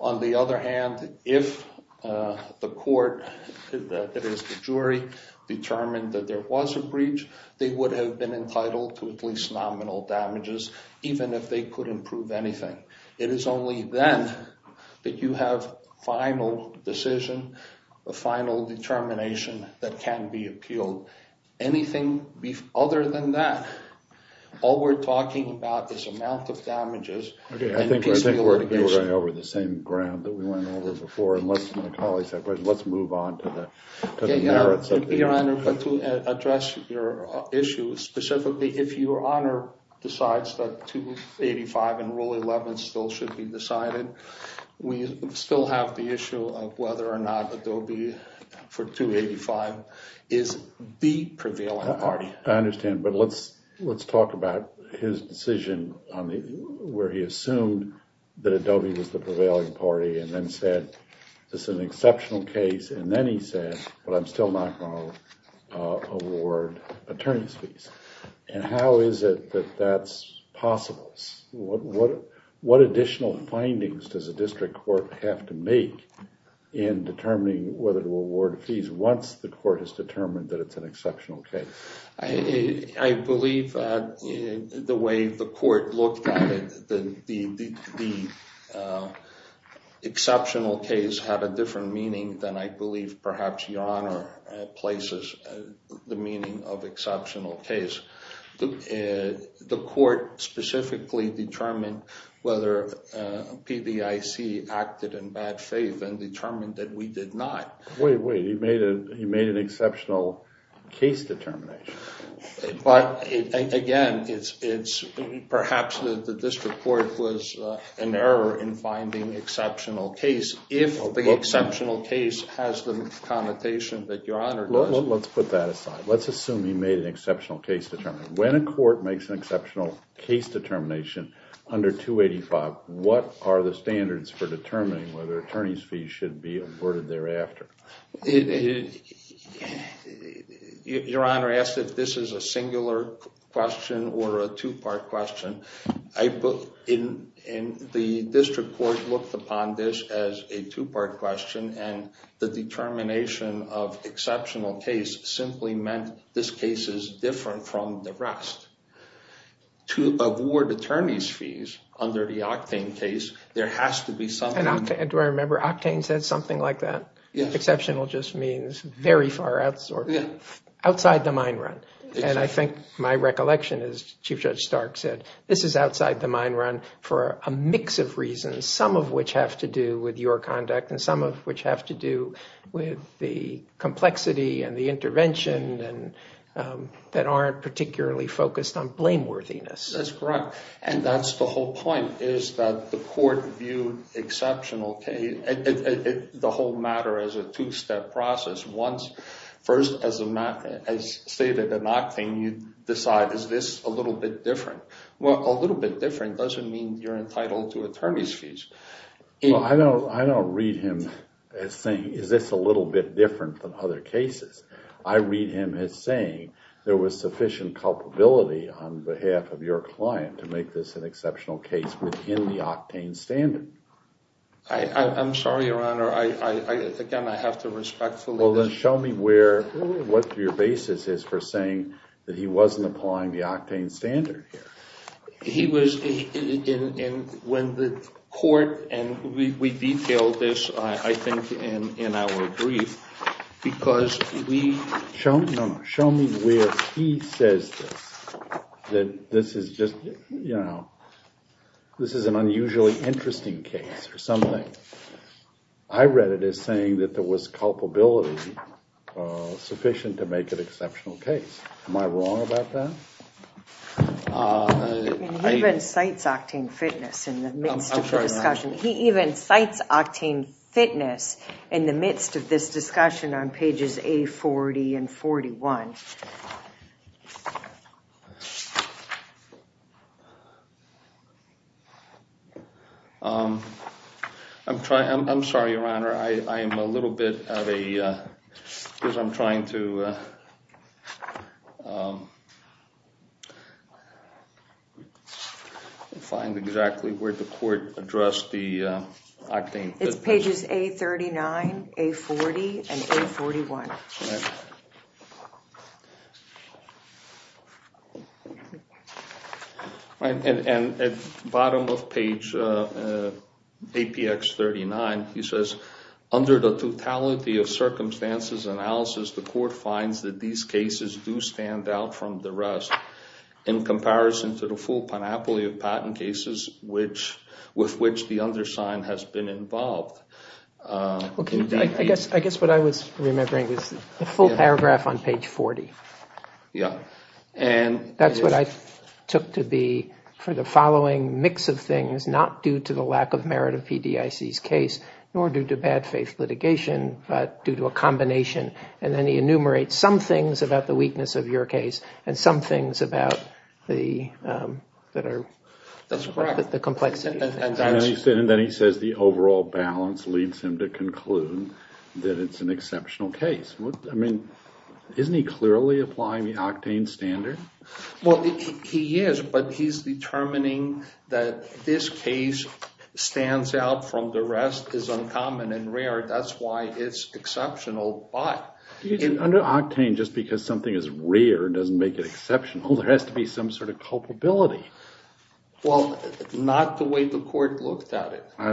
On the other hand, if the court, if the jury, determined that there was a breach, they would have been entitled to at least nominal damages, even if they couldn't prove anything. It is only then that you have final decision, the final determination, that can be appealed. Anything other than that, all we're talking about is the amount of damages... I think we're dealing over the same ground that we went over before. Let's move on. Your Honor, to address your issue, specifically, if Your Honor decides that 285 and Rule 11 still should be decided, we still have the issue of whether or not Adobe for 285 is the prevailing party. I understand, but let's talk about his decision where he assumed that Adobe was the prevailing party and then said, this is an exceptional case, and then he said, but I'm still not going to award attorney's fees. And how is it that that's possible? What additional findings does a district court have to make in determining whether to award fees once the court has determined that it's an exceptional case? I believe the way the court looked at it is that the exceptional case had a different meaning than I believe perhaps Your Honor places the meaning of exceptional case. The court specifically determined whether PBIC acted in bad faith and determined that we did not. Wait, wait, he made an exceptional case determination. But again, it's perhaps that this report was an error in finding exceptional case if the exceptional case has the connotation that Your Honor does. Let's put that aside. Let's assume he made an exceptional case determination. When a court makes an exceptional case determination under 285, what are the standards for determining whether attorney's fees should be awarded thereafter? Your Honor asked if this is a singular question or a two-part question. The district court looked upon this as a two-part question and the determination of exceptional case simply meant this case is different from the rest. To award attorney's fees under the Octane case, there has to be something. Do I remember Octane said something like that? Yes. Exceptional just means very far outside the mine run. I think my recollection is Chief Judge Stark said this is outside the mine run for a mix of reasons, some of which have to do with your conduct and some of which have to do with the complexity and the intervention that aren't particularly focused on blameworthiness. That's correct. That's the whole point is that the court viewed exceptional case, the whole matter, as a two-step process. First, as stated in Octane, you decide, is this a little bit different? Well, a little bit different doesn't mean you're entitled to attorney's fees. I don't read him as saying, is this a little bit different from other cases? I read him as saying there was sufficient culpability on behalf of your client to make this an exceptional case within the Octane standard. I'm sorry, Your Honor. Again, I have to respect that. Well, then show me where, what your basis is for saying that he wasn't applying the Octane standard here. He was, and when the court, and we detailed this, I think, in our brief, because we... No, show me where he says that this is just, you know, this is an unusually interesting case or something. I read it as saying that there was culpability sufficient to make it an exceptional case. Am I wrong about that? He even cites Octane Fitness in the midst of the discussion. I'm sorry, Your Honor. He even cites Octane Fitness in the midst of this discussion on pages A40 and 41. I'm sorry, Your Honor. I'm a little bit at a, because I'm trying to find exactly where the court addressed the Octane Fitness. It's pages A39, A40, and A41. And at the bottom of page APX39, he says, under the totality of circumstances and analysis, the court finds that these cases do stand out from the rest in comparison to the full panoply of patent cases with which the undersigned has been involved. I guess what I was remembering is the full paragraph on page 40. Yeah. That's what I took to be for the following mix of things, not due to the lack of merit of PDIC's case, nor due to bad faith litigation, but due to a combination. And then he enumerates some things about the weakness of your case and some things about the, that are, the complexity. And then he says the overall balance leads him to conclude that it's an exceptional case. I mean, isn't he clearly applying the Octane standard? Well, he is, but he's determining that his case stands out from the rest, is uncommon and rare. That's why it's exceptional, but... Under Octane, just because something is rare doesn't make it exceptional. There has to be some sort of culpability. Well, not the way the court looked at it. Well,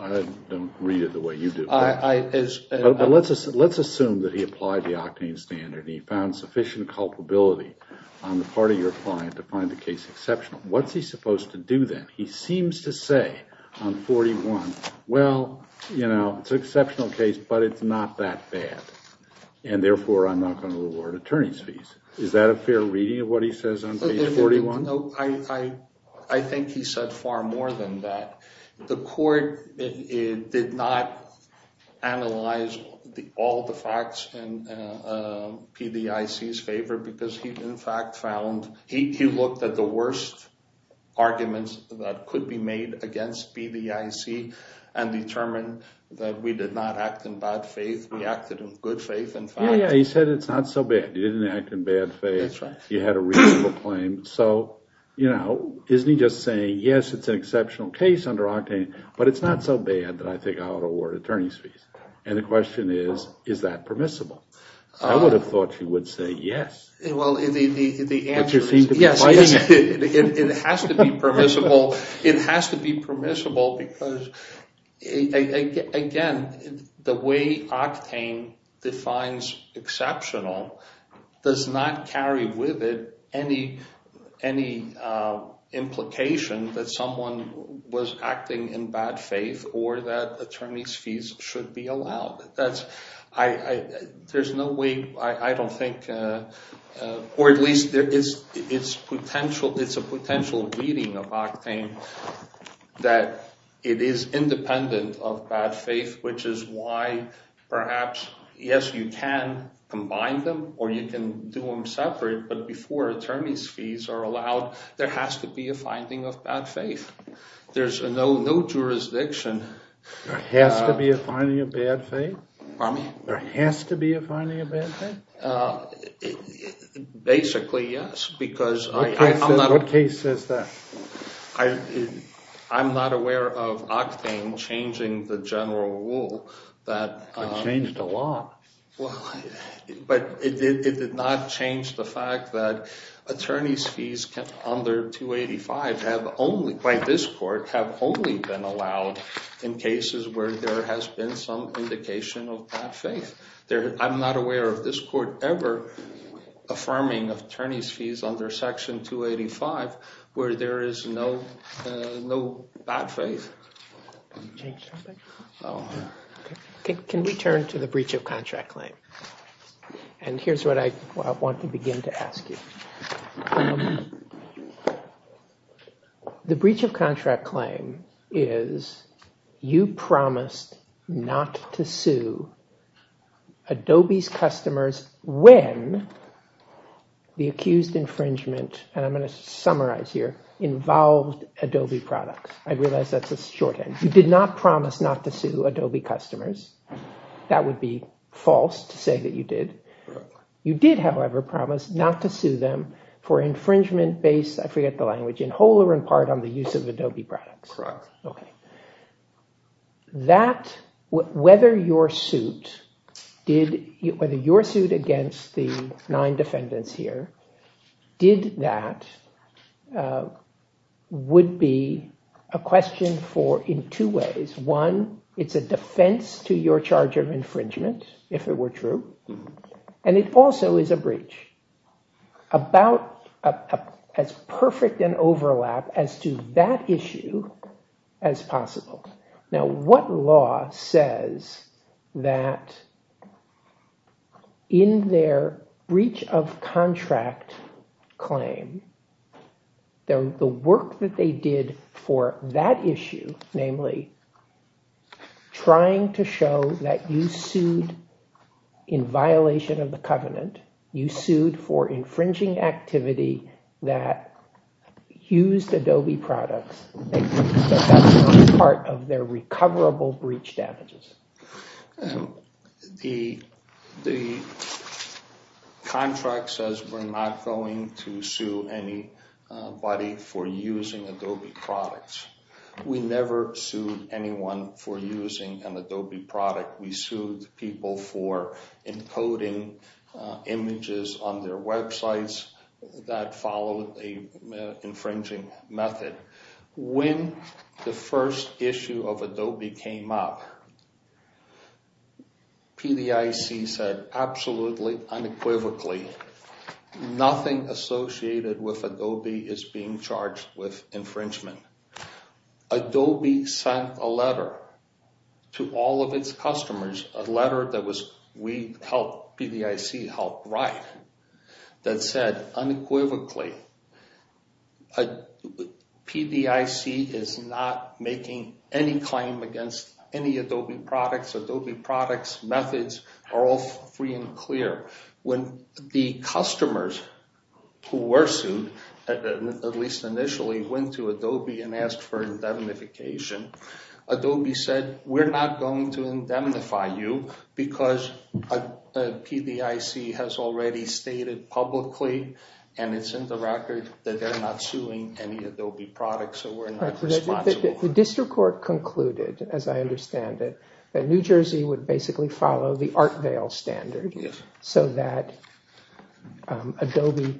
I don't read it the way you do. I, as... Let's assume that he applied the Octane standard and he found sufficient culpability on the part of your client to find the case exceptional. What's he supposed to do then? He seems to say, on page 41, well, you know, it's an exceptional case, but it's not that bad. And therefore, I'm not going to award attorney's fees. Is that a fair reading of what he says on page 41? I think he said far more than that. The court did not analyze all the facts in PBIC's favor because he in fact found, he looked at the worst arguments that could be made against PBIC and determined that we did not act in bad faith. We acted in good faith. Yeah, yeah. He said it's not so bad. You didn't act in bad faith. That's right. You had a reasonable claim. So, you know, isn't he just saying, yes, it's an exceptional case under Octane, but it's not so bad that I think I ought to award attorney's fees. And the question is, is that permissible? I would have thought he would say yes. Well, the answer is yes. It has to be permissible. It has to be permissible because, again, the way Octane defines exceptional does not carry with it any implication that someone was acting in bad faith or that attorney's fees should be allowed. That's, there's no way, I don't think or at least it's potential, it's a potential reading of Octane that it is independent of bad faith, which is why perhaps yes, you can combine them or you can do them separate, but before attorney's fees are allowed, there has to be There's no jurisdiction. There has to be a finding of bad faith? Pardon me? There has to be a finding of bad faith? Basically, yes, because I'm not What case is that? I'm not aware of Octane changing the general rule that Changed the law? Well, but it did not change the fact that attorney's fees under 285 have only, by this court, have only been allowed in cases where there has been some indication of bad faith. I'm not aware of this court ever affirming attorney's fees under section 285 where there is no no bad faith. Can we turn to the breach of contract claim? And here's what I want to begin to ask you. The breach of contract claim is you promised not to sue Adobe's customers when the accused infringement, and I'm going to summarize here, involved Adobe products. I realize that's a shorthand. You did not promise not to sue Adobe customers. That would be false to say that you did. You did, however, promise not to sue them for infringement based, I forget the language, in whole or in part, on the use of Adobe products. Okay. That, whether your suit did, whether your suit against the nine defendants here, did that would be a question for in two ways. One, it's a defense to your charge of infringement, if it were true, and it also is a breach. About as perfect an overlap as to that issue as possible. Now, what law says that in their breach of contract claim, the work that they did for that issue, namely, trying to show that you sued in violation of the covenant, you sued for infringing activity that used Adobe products as part of their recoverable breach damages? The contract says we're not going to sue anybody for using Adobe products. We never sued anyone for using an Adobe product. We sued people for encoding images on their websites that follow an infringing method. When the first issue of Adobe came up, PDIC said absolutely unequivocally nothing associated with Adobe is being charged with infringement. Adobe sent a letter to all of its customers, a letter that PDIC helped write that said unequivocally PDIC is not making any claim against any Adobe products. Adobe products' methods are all free and clear. When the customers who were sued, at least initially, went to Adobe and asked for indemnification, Adobe said we're not going to indemnify you because PDIC has already stated publicly and it's in the record that they're not suing any Adobe products. The district court concluded that New Jersey would basically follow the standard so that Adobe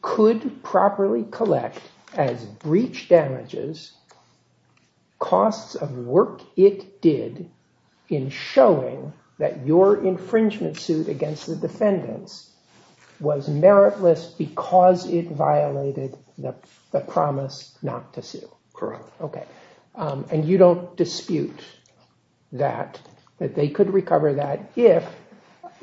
could properly collect as breach damages costs of work it did in showing that your infringement suit against the defendants was meritless because it violated the promise not to sue. And you don't dispute that, that they could recover that if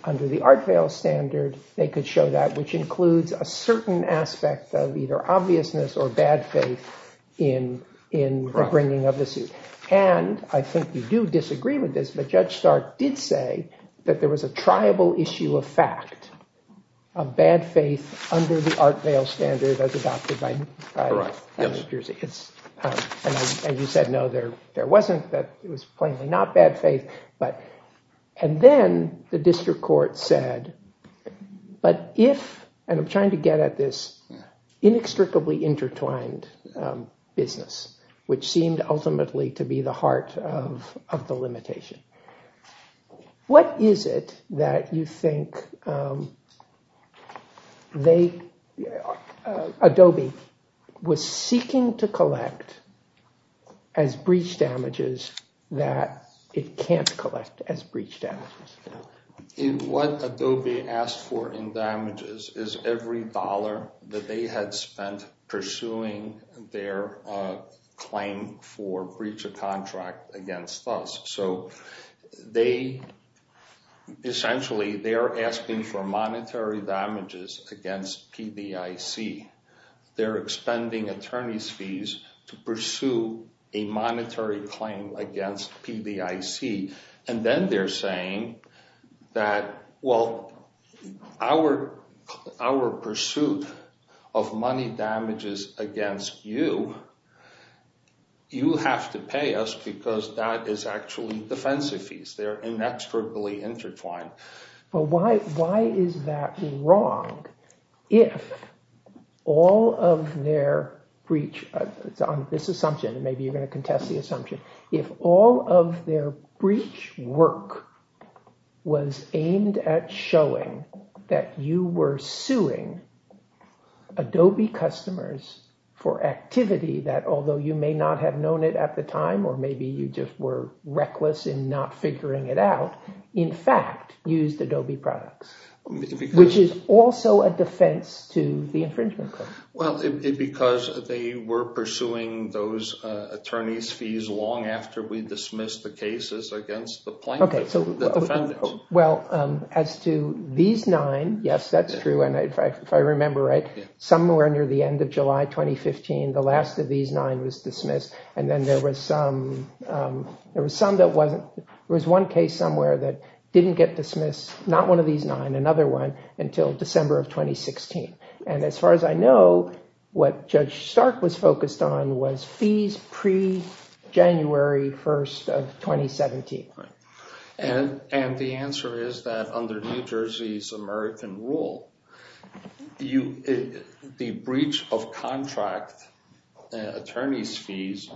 under the Art Vale standard they could show that which includes a certain aspect of either obviousness or bad faith in bringing of the suit. And I think you do disagree with this but Judge Stark did say there was a tribal issue of fact of bad faith under the Art Vale standard as adopted by New York And Mr. Court said but if I'm trying to get at this inextricably intertwined business which seemed ultimately to be the heart of the limitation, what is it that you think they Adobe was seeking to collect as breach damages that it can't collect as breach damages? What Adobe asked for in damages is every dollar that they had spent pursuing their claim for breach of contract against BUS. So they essentially they're asking for monetary damages against PBIC. They're expending attorney's fees to pay them and then they're saying that well our pursuit of money damages against you, you have to pay us because that is actually defensive fees. They're inextricably intertwined. Why is that wrong if all of their breach on this assumption, and maybe you're going to contest the assumption, if all of their breach work was aimed at showing that you were suing Adobe customers for activity that although you may not have known it at the time or maybe you just were reckless in not figuring it out, in fact used Adobe products, which is also a defense to the infringement claims. Because they were pursuing those attorneys fees long after we dismissed the cases against the plaintiffs. As to these nine, yes, that's true, if I remember right, somewhere near the end of July 2015 the last of these nine was dismissed and there was some that wasn't there was one case somewhere that didn't get dismissed, not one of these nine, another one, until December of 2016. And as far as I know, what Judge Stark was focused on was fees pre-January 1st of 2017. And the answer is that under New Jersey's American rule, the breach of contract attorneys fees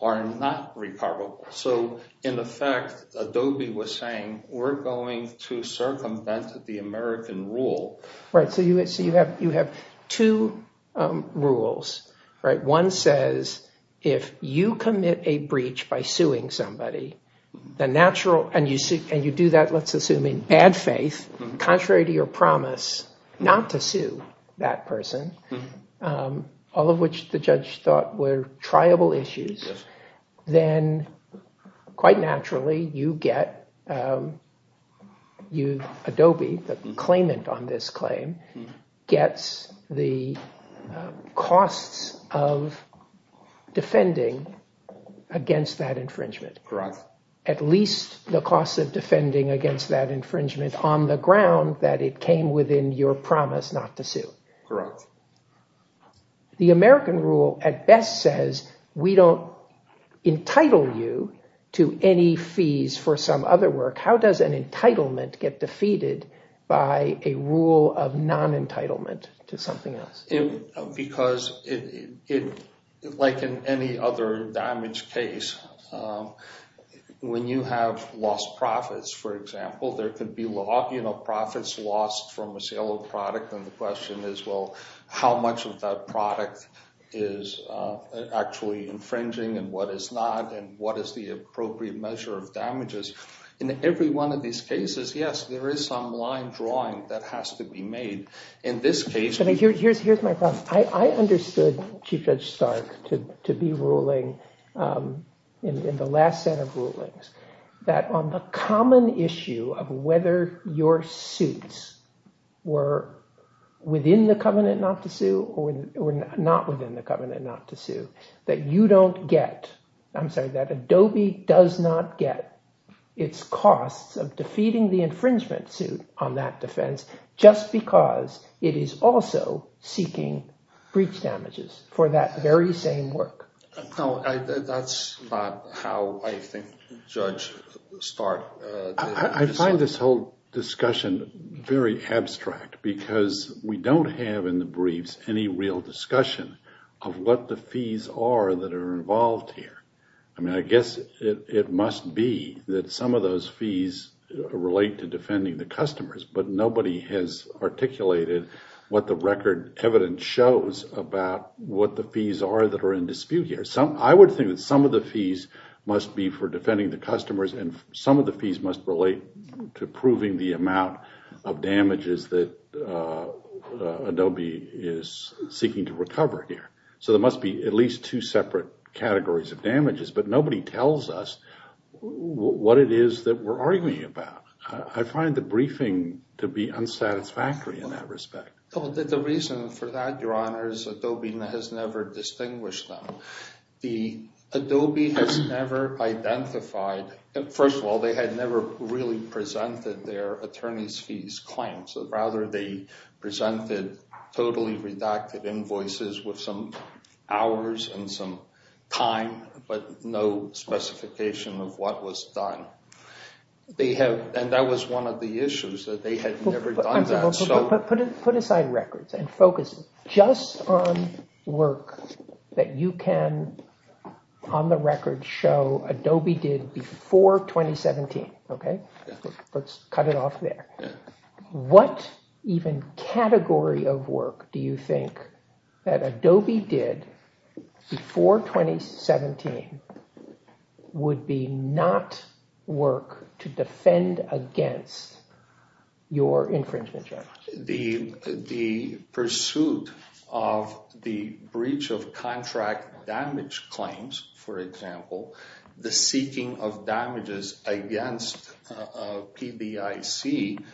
are not reparable. So in effect, Adobe was saying, we're going to circumvent the American rule. Right, so you have two rules, right, one says if you commit a breach by suing somebody, the natural, and you do that, let's assume, in bad faith, contrary to your promise, not to sue that person, all of which the judge thought were triable issues, then, quite naturally, you get, you, Adobe, the claimant on this claim, gets the costs of defending against that infringement. Correct. At least the costs of defending against that infringement on the ground that it came from within your promise not to sue. Correct. The American rule at best says we don't entitle you to any fees for some other work, how does an entitlement get defeated by a rule of non-entitlement to something else? Because, like in any other damage case, when you have lost profits, for example, there could be profits lost from a sale of a product, and the question is, well, how much of that product is actually infringing, and what is not, and what is the appropriate measure of damages? In every one of these cases, yes, there is some line drawing that the common issue of whether your suits were within the covenant not to sue or not within the covenant not to sue, that you don't get, I'm sorry, that Adobe does not get its costs of defeating the infringement suit on that defense just because it is also seeking breach damages for that very same work. That's not how I think the judge started. I find this whole discussion very abstract because we don't have in the briefs any real discussion of what the fees are that are involved here. I guess it must be that some of those fees relate to defending the customers, but nobody has articulated what the record evidence shows about what the fees are that are in dispute here. I would think some of the fees must be for defending the customers and some of the fees must relate to proving the amount of damages that Adobe is seeking to recover here. There must be at least two separate categories of damages, but nobody tells us what it is that we're dealing with. The Adobe has never identified their attorneys' fees claims. Rather, they presented totally redacted invoices with some hours and some time but no specification of what was done. That was one of the issues that they had never done that. Put aside your records and focus just on work that you can, on the record, show Adobe did before 2017, okay? Let's cut it off there. What even category of work do you think that Adobe did before 2017 would be not work to defend against your infringement checks? The pursuit of the breach of contract damage claims, for example, the seeking of damages against PBIC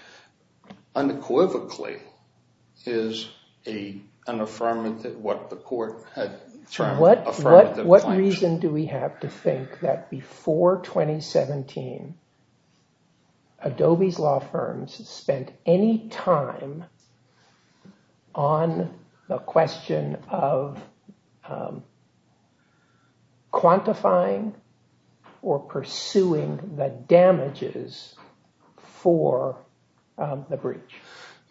unequivocally is an affirmative what the court had termed affirmative action. What reason do we have to think that before 2017, Adobe's law firms spent any time on the question of quantifying or pursuing the damages for the breach?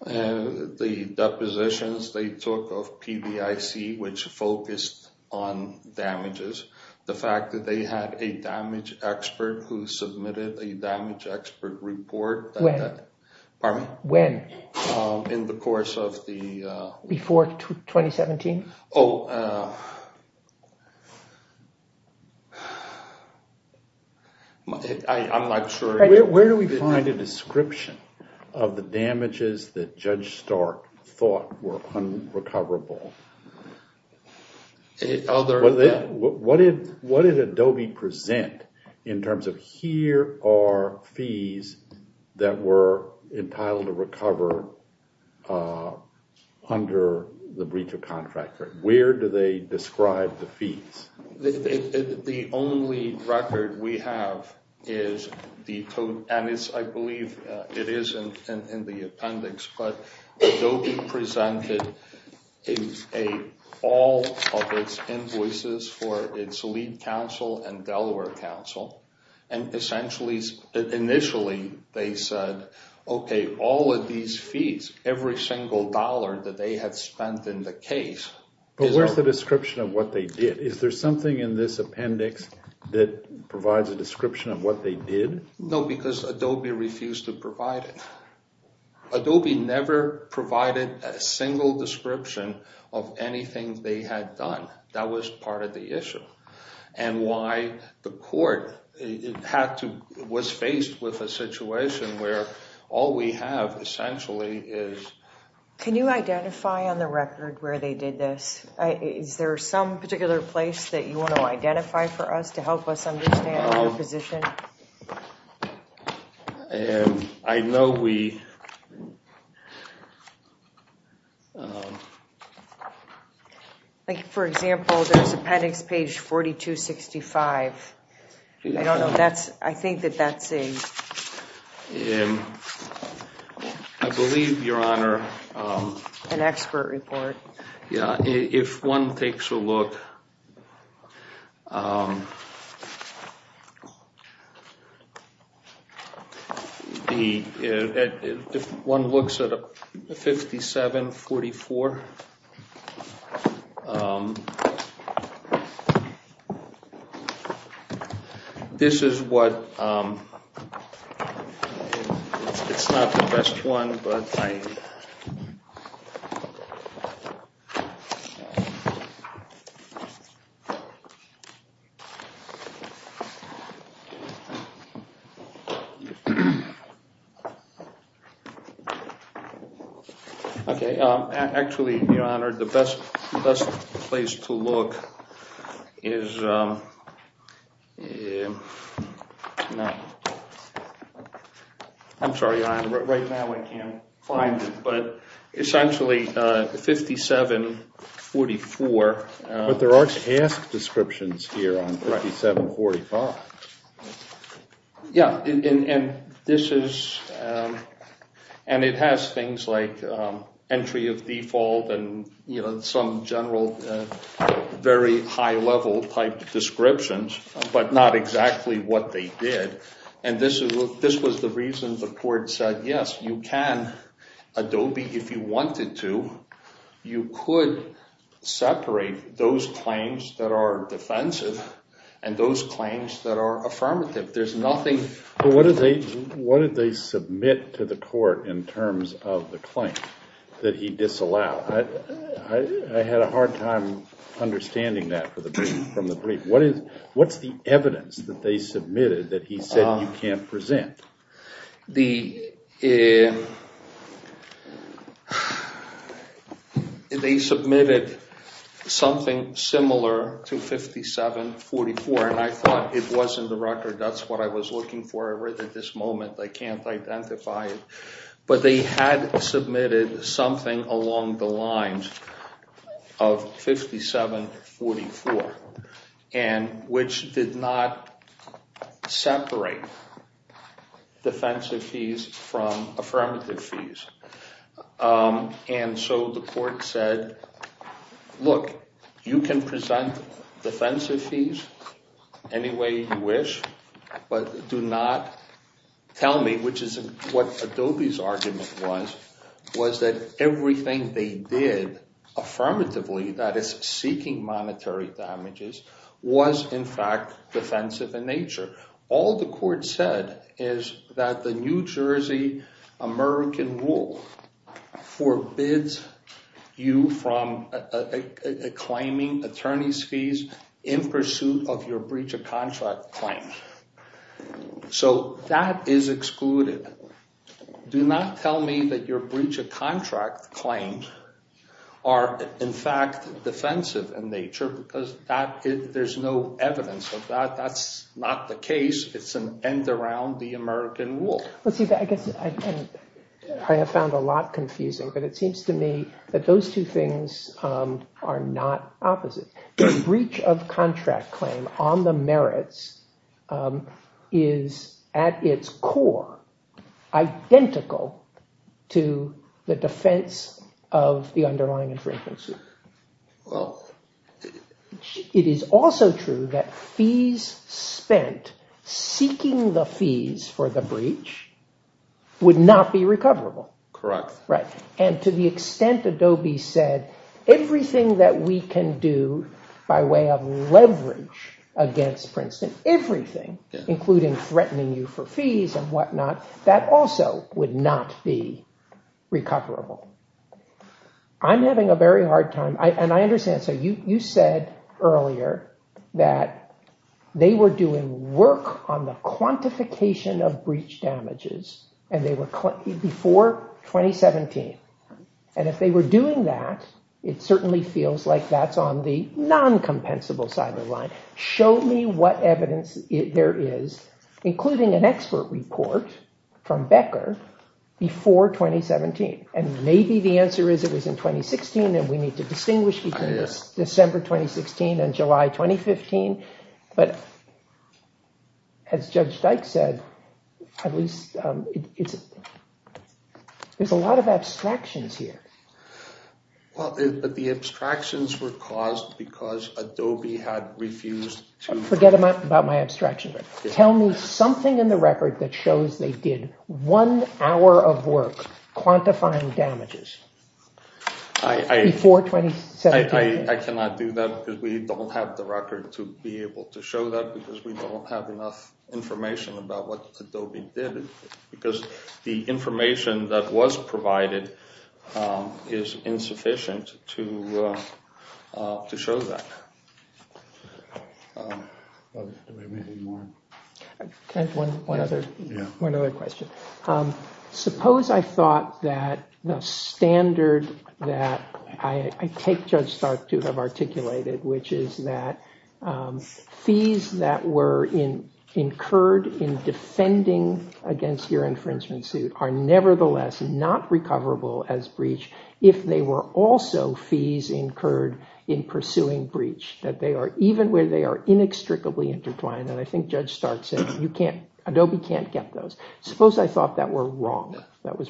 The depositions they took of PBIC which focused on damages, the fact that they didn't have a damage expert who submitted a damage expert report in the course of the... Before 2017? Oh, sure... Where do we find a description of the damages that Judge Stark thought were unrecoverable? What did Adobe do in case? The court was faced with a situation where all we have essentially is... Can you identify on the record where they did this? Is there some particular place that you want to identify for us to help us understand the position? I know we... For example, there's appendix page 4265. I don't know... I think that that's the... I believe, Your Honor... An expert report. Yeah, if one takes a look... If one looks at 5745, this is what... It's not the best think that's a good question. I don't know the exact answer. I don't know the exact answer. I that I So, I'm sorry, Your Honor. Exactly, Your Honor. Actually, Your Honor, the best place to look is... I'm sorry, Your Honor, right now I can't find it, but it's actually 5744. But there are task descriptions here on 5745. Yeah, and this is and it has things like entry of default and, you know, some general very high level type descriptions, but not exactly what they did. And this was the reason the court said, yes, you can Adobe if you wanted to, you could separate those claims that are defensive and those claims that are affirmative. There's nothing... So, what did they submit to the court in terms of the claim that he disallowed? I had a hard time understanding that from the brief. What's the evidence that they submitted that he said you can't present? The... They submitted something similar to 5744 and I thought it wasn't the record. That's what I was looking for. I read it at this moment. I can't identify it. But they had submitted something along the lines of 5744 and which did not defensive fees from affirmative fees. And so the court said, look, you can present defensive fees any way you wish, but do not tell me, which is what Adobe's argument was, was that everything they did affirmatively, that is, seeking monetary damages, was, in fact, defensive in nature. All the court said is that the New Jersey American rule forbids you from claiming attorney's fees in pursuit of your breach of contract claims. So that is excluded. Do not tell me that your breach of claims are, in fact, defensive in nature because there's no evidence of that. That's not the case. It's an end around the American rule. I have found a lot confusing, but it seems to me that those two things are not opposite. The breach of contract claim on the merits is, at its core, identical to the defense of the underlying infringements. It is also true that fees spent seeking the fees for would not be recoverable. And to the extent Adobe said everything that we can do by way of leverage against Princeton is not recoverable. And to Adobe said everything, including threatening you for fees and whatnot, that also would not be recoverable. I'm having a hard time. You said earlier that they were doing work on the quantification of breach damages, and they were before 2017. If they were doing that, it certainly feels like that's on the non-compensable side of the line. Show me what evidence there is, including an expert report from Becker, before 2017. And maybe the answer is it was in 2016, and we need to distinguish between December 2016 and July 2015. But as Judge Seitz said, there's a lot of abstractions here. Well, the abstractions were caused because Adobe had refused to... Forget about my abstractions. Tell me something in the record that shows they did one hour of work quantifying damages before 2017. I cannot do that because we don't have the record to be able to show that because we don't have enough information about what Adobe did because the information that was provided is insufficient to show that. One other thought that the standard that I take Judge Stark to have articulated, which is that fees that were in the record were not sufficient to be incurred in defending against your infringement suit are nevertheless not recoverable as breach if they were also fees incurred in pursuing breach, even where they are inextricably intertwined. I think Judge Stark said, Adobe can't get those. Suppose I thought that was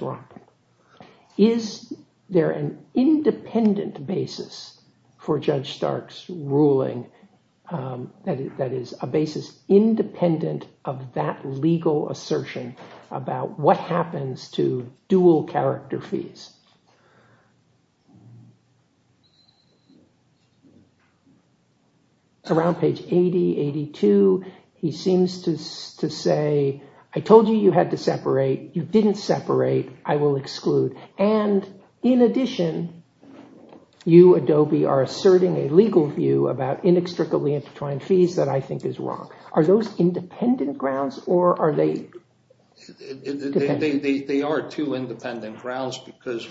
wrong. Is there an independent basis for that legal assertion about what happens to dual character fees? Around page 80, 82, he seems to say, I told you you had to separate. You didn't separate. I will exclude. And in addition, you, Adobe, are asserting a legal view about inextricably intertwined fees that I think is wrong. Are those independent grounds or are they... They are two independent grounds because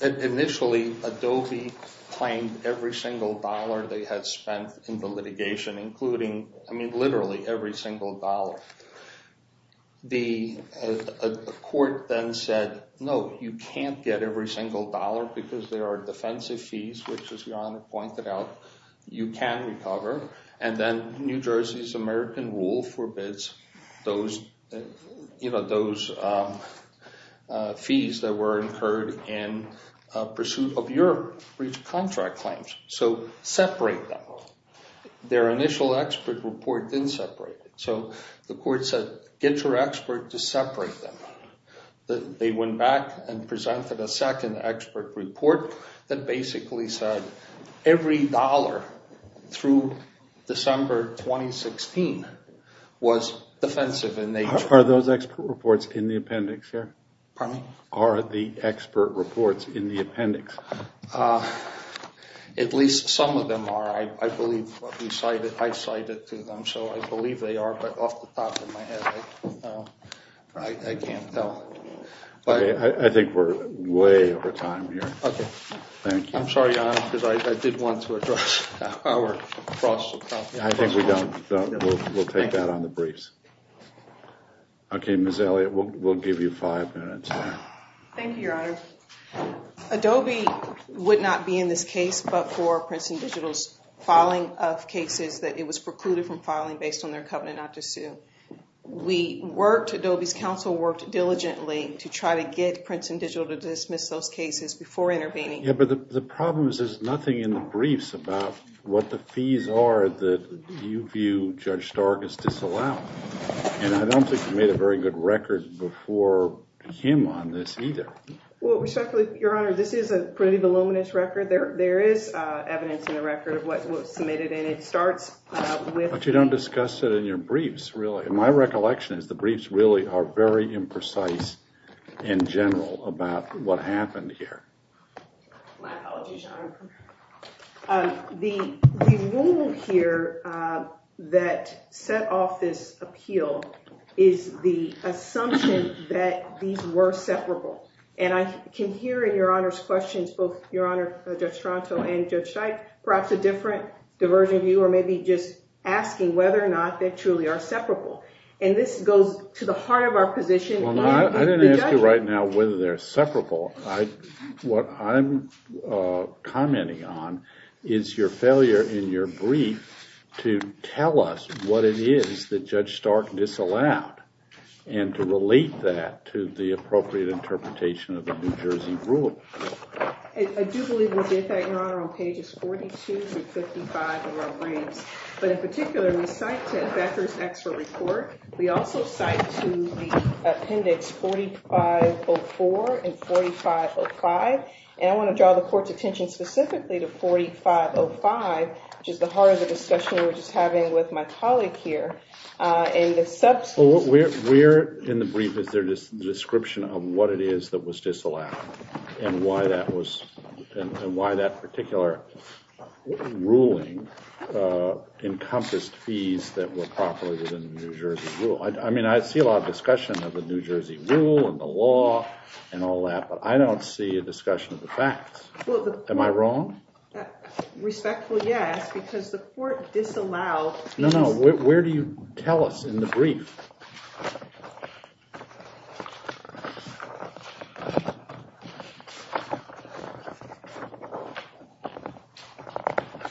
initially, Adobe claimed every single dollar they had spent in the litigation, including, I mean, literally, every single dollar. The court then said, no, you can't get every single dollar because there are defensive fees, which, as Jan pointed out, you can't recover. And then New Jersey's American rule forbids those fees that were incurred in pursuit of your contract claims. So, separate them. Their initial expert report didn't separate them. So, the court said, get your expert to separate them. They went back and presented a second expert report that basically said every dollar through 2016 was defensive in nature. Are those expert reports in the appendix, sir? Pardon me? Are the expert reports in the appendix? At least some of them are. I believe I cited them, so I believe they are, but off the top of my head, I can't tell. I think we're way over time here. Okay. Thank you. I'm sorry, Your Honor, because I did want to address our cross-referencing. We'll take that on the briefs. Okay, Ms. Elliott, we'll give you five minutes. Thank you, Your Honor. be brief. We work diligently to try to get Princeton digital to dismiss those cases. There's nothing in the briefs about what the fees are that you view judge Stark as disallowing, and I don't think you made a good record before him on this either. Your Honor, this is a pretty good record of what was committed, and it starts with... But you don't discuss it in your briefs, really. My recollection is the briefs really are very imprecise in general about what happened here. Wow. The rule here that set off this appeal is the assumption that these cases separable, and I can hear in your Honor's questions whether or not they truly are separable, and this goes to the heart of our position. I didn't ask you right now whether they're separable. What I'm commenting on is your failure in your interpretation of the New Jersey rule. I do believe we'll get that now on pages 42 through 55 of our brief, but in particular we cite to the appendix 4504 and 4505, and I want to draw the Court's attention specifically to 4505, which is the heart of the discussion we're just having with my colleague here. We're in the brief with the description of what it is that was disallowed and why that particular ruling encompassed fees that were properly within the New Jersey rule. I see a lot of discussion of the facts. Am I wrong? Respectfully, yes, because the Court disallowed fees. No, no, where do you tell us in the brief?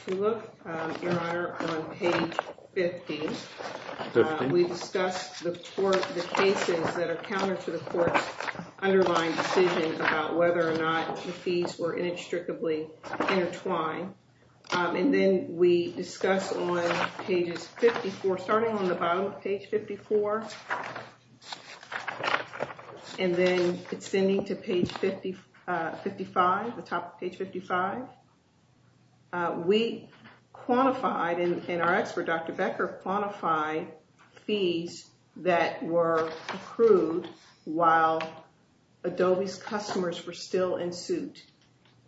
To look, Your Honor, on page 50, we discussed the cases that accounted for the Court's underlying decisions about whether or not fees were inextricably intertwined. Then we discussed on page 54, starting on the bottom of page 54, and then extending to page 55, the top of page 55, we quantified and our expert, Dr. Becker, quantified fees that were approved while Adobe's fees were still in suit.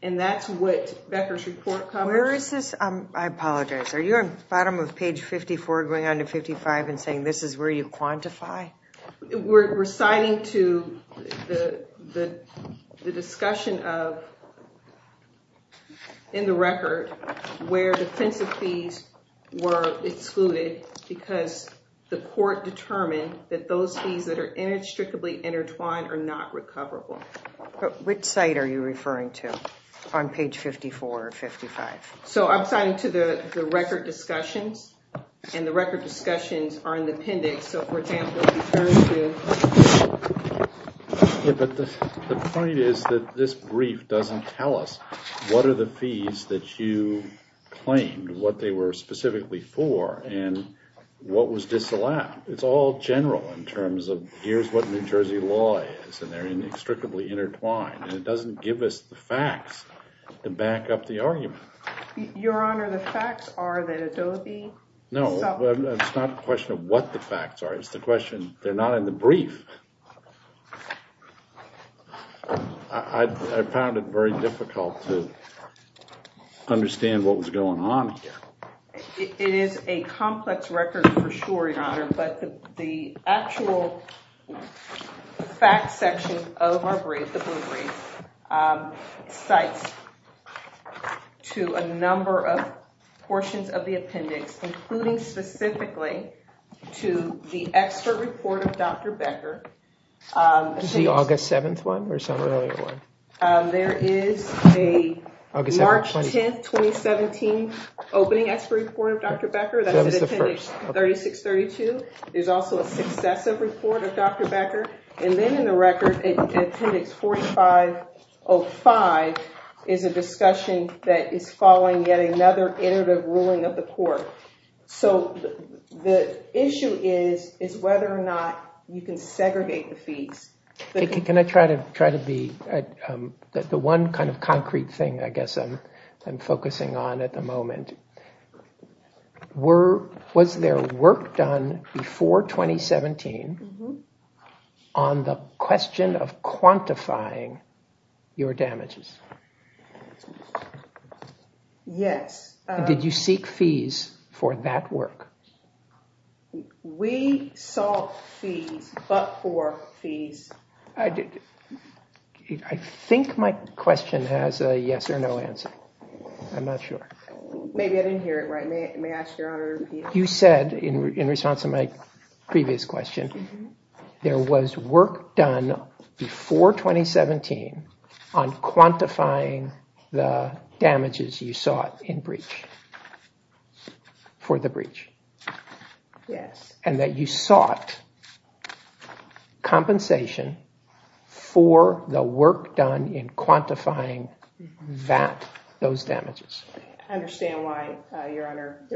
And that's what Becker's report covers. I apologize. Are you on the bottom of page 54 going on to 55 and saying this is where We're reciting to the discussion of, in the record, where the census fees were included because the Court determined that those fees that are included included in the census. Which site are you referring to on page 54 or 55? I'm referring to the record discussion and the record discussions are in the appendix. The point is that this brief doesn't tell us what are the fees that you claimed what they were specifically for and what was disallowed. It's all general in terms of here's what New Jersey law is. It doesn't give us the facts to back up the argument. Your Honor, the facts are would be No, it's not a question of what the facts are. It's the question they're not in the brief. I found it very interesting referred to is not the appendix that you referred to for sure, Your Honor, but the actual facts section of our brief, the brief, cites to a number of portions of the appendix, including specifically to the expert report of Dr. Becker. Is it in the record, appendix 4605, is a discussion that is following yet another iterative ruling of the court. So the issue is whether or not you can segregate the feeds. Can I try to be the one kind of concrete thing I guess I'm focusing on at the moment? Was there work done before 2017 on the question of quantifying your damages? Yes. Did you seek fees for that work? We sought fees, but for fees. I think my question has a yes or no answer. I'm not sure. You said in response to my previous question, there was work done before 2017 on quantifying the damages you sought in breach for the breach. And that you sought compensation for the work done in quantifying that, those damages.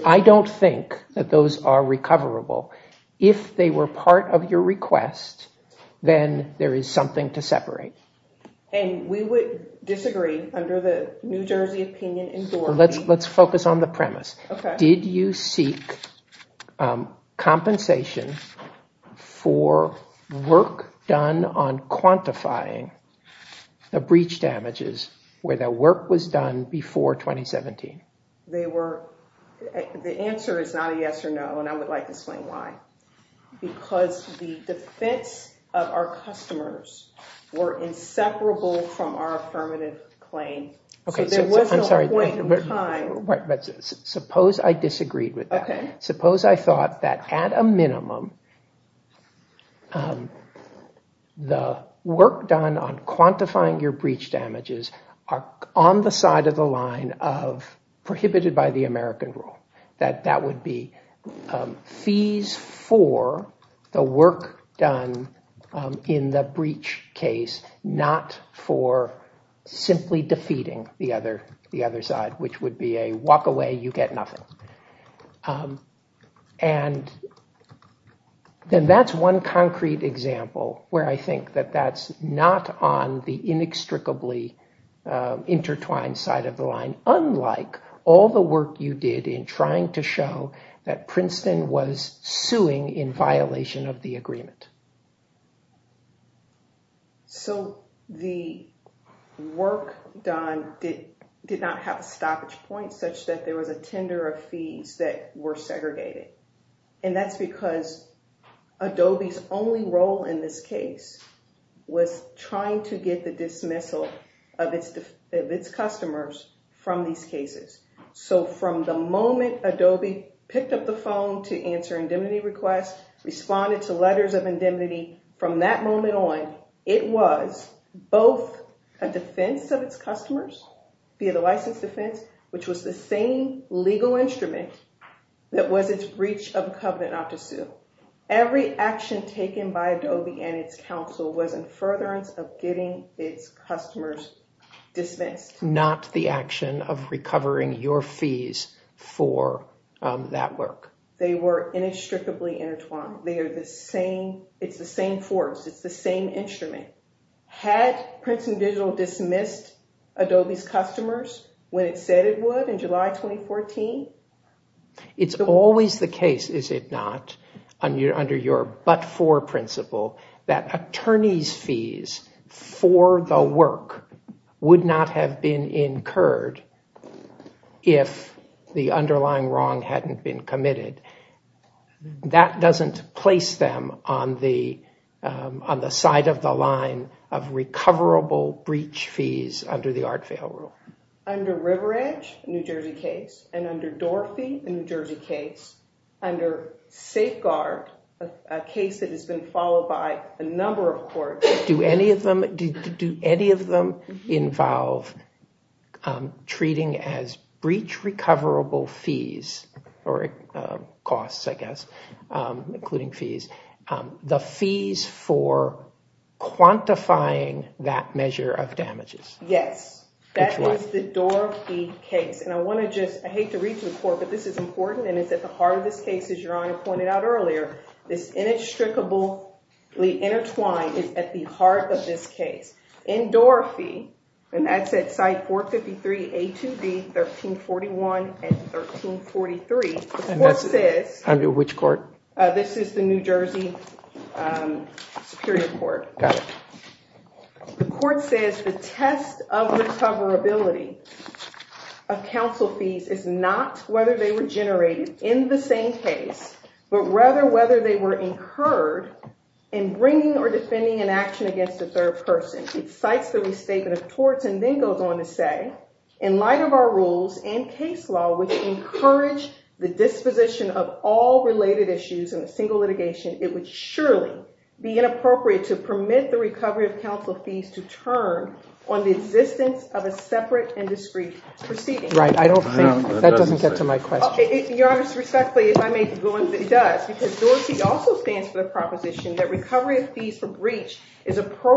I don't think that those are recoverable. If they were part of your request, then there is something to separate. And we would disagree under the New Jersey opinion. Let's focus on the premise. Did you seek compensation for work done on quantifying the breach damages where the work was done before 2017? The answer is not yes or no. I would like to explain why. Because the defense of our customers were inseparable from our affirmative claim. Suppose I disagreed with that. Suppose I thought that at a certain the work done on the side of the line prohibited by the American rule, that would be fees for the work done in the breach case, not for simply defeating the other side, which would be a walk away, you get nothing. And that's one concrete example where I think that that's not on the inextricably intertwined side of the line, unlike all the work you did in trying to show that Princeton was suing in violation of the agreement. So the work done did not have a stoppage point such that there was a tender of fees that were segregated. And that's because Adobe's only role in this case was trying to get the dismissal of its customers from these cases. So from the moment Adobe picked up the phone to answer indemnity requests, responded to letters of and the same legal instrument that was its breach of the covenant not to sue, every action taken by Adobe and its counsel was in furtherance of getting its customers dismissed. Not the action of recovering your fees for that work. They were inextricably intertwined. It's the same force. It's the same instrument. Had Princeton Digital dismissed Adobe's customers when it said it would in July 2014? It's always the case, is it not, under your but for principle, that attorney's fees for the work would not have been incurred if the underlying wrong hadn't been committed. That doesn't place them on the side of the line of recoverable breach fees under the Art Fail Rule. Under River Edge, a New Jersey case, and under Dorothy, a New Jersey case, under Safeguard, a case that has been followed by a number of courts, do any of them involve treating as breach recoverable fees, or costs, I guess, including fees, the fees for quantifying that measure of damages? Yes. That was the Dorothy case. And I want to just, I hate to read the report, but this is important and it's at the heart of the case as your Honor pointed out earlier. It's inextricably intertwined at the heart of this case. In Dorothy, and that's at 453 A2B 1341 and 1343, the court says, this is the New Jersey Superior Court, the court says the test of recoverability of counsel fees is not whether they were generated in the same case, but rather whether they were incurred in the same case. In light of our rules and case law, which encouraged the disposition of all related issues in a single litigation, it would surely to permit the recovery of counsel fees to turn on the existence of a separate and discreet proceeding. Your Honor, respectfully, as I may be the defendant, I am not in favor counsel fees. I would not support the recovery of counsel fees. I would not support the recovery of counsel fees. I would not support the recovery of counsel fees. I would not support recovery of counsel fees. I would not support the recovery of counsel fees. Thank you. I have no further comments. you.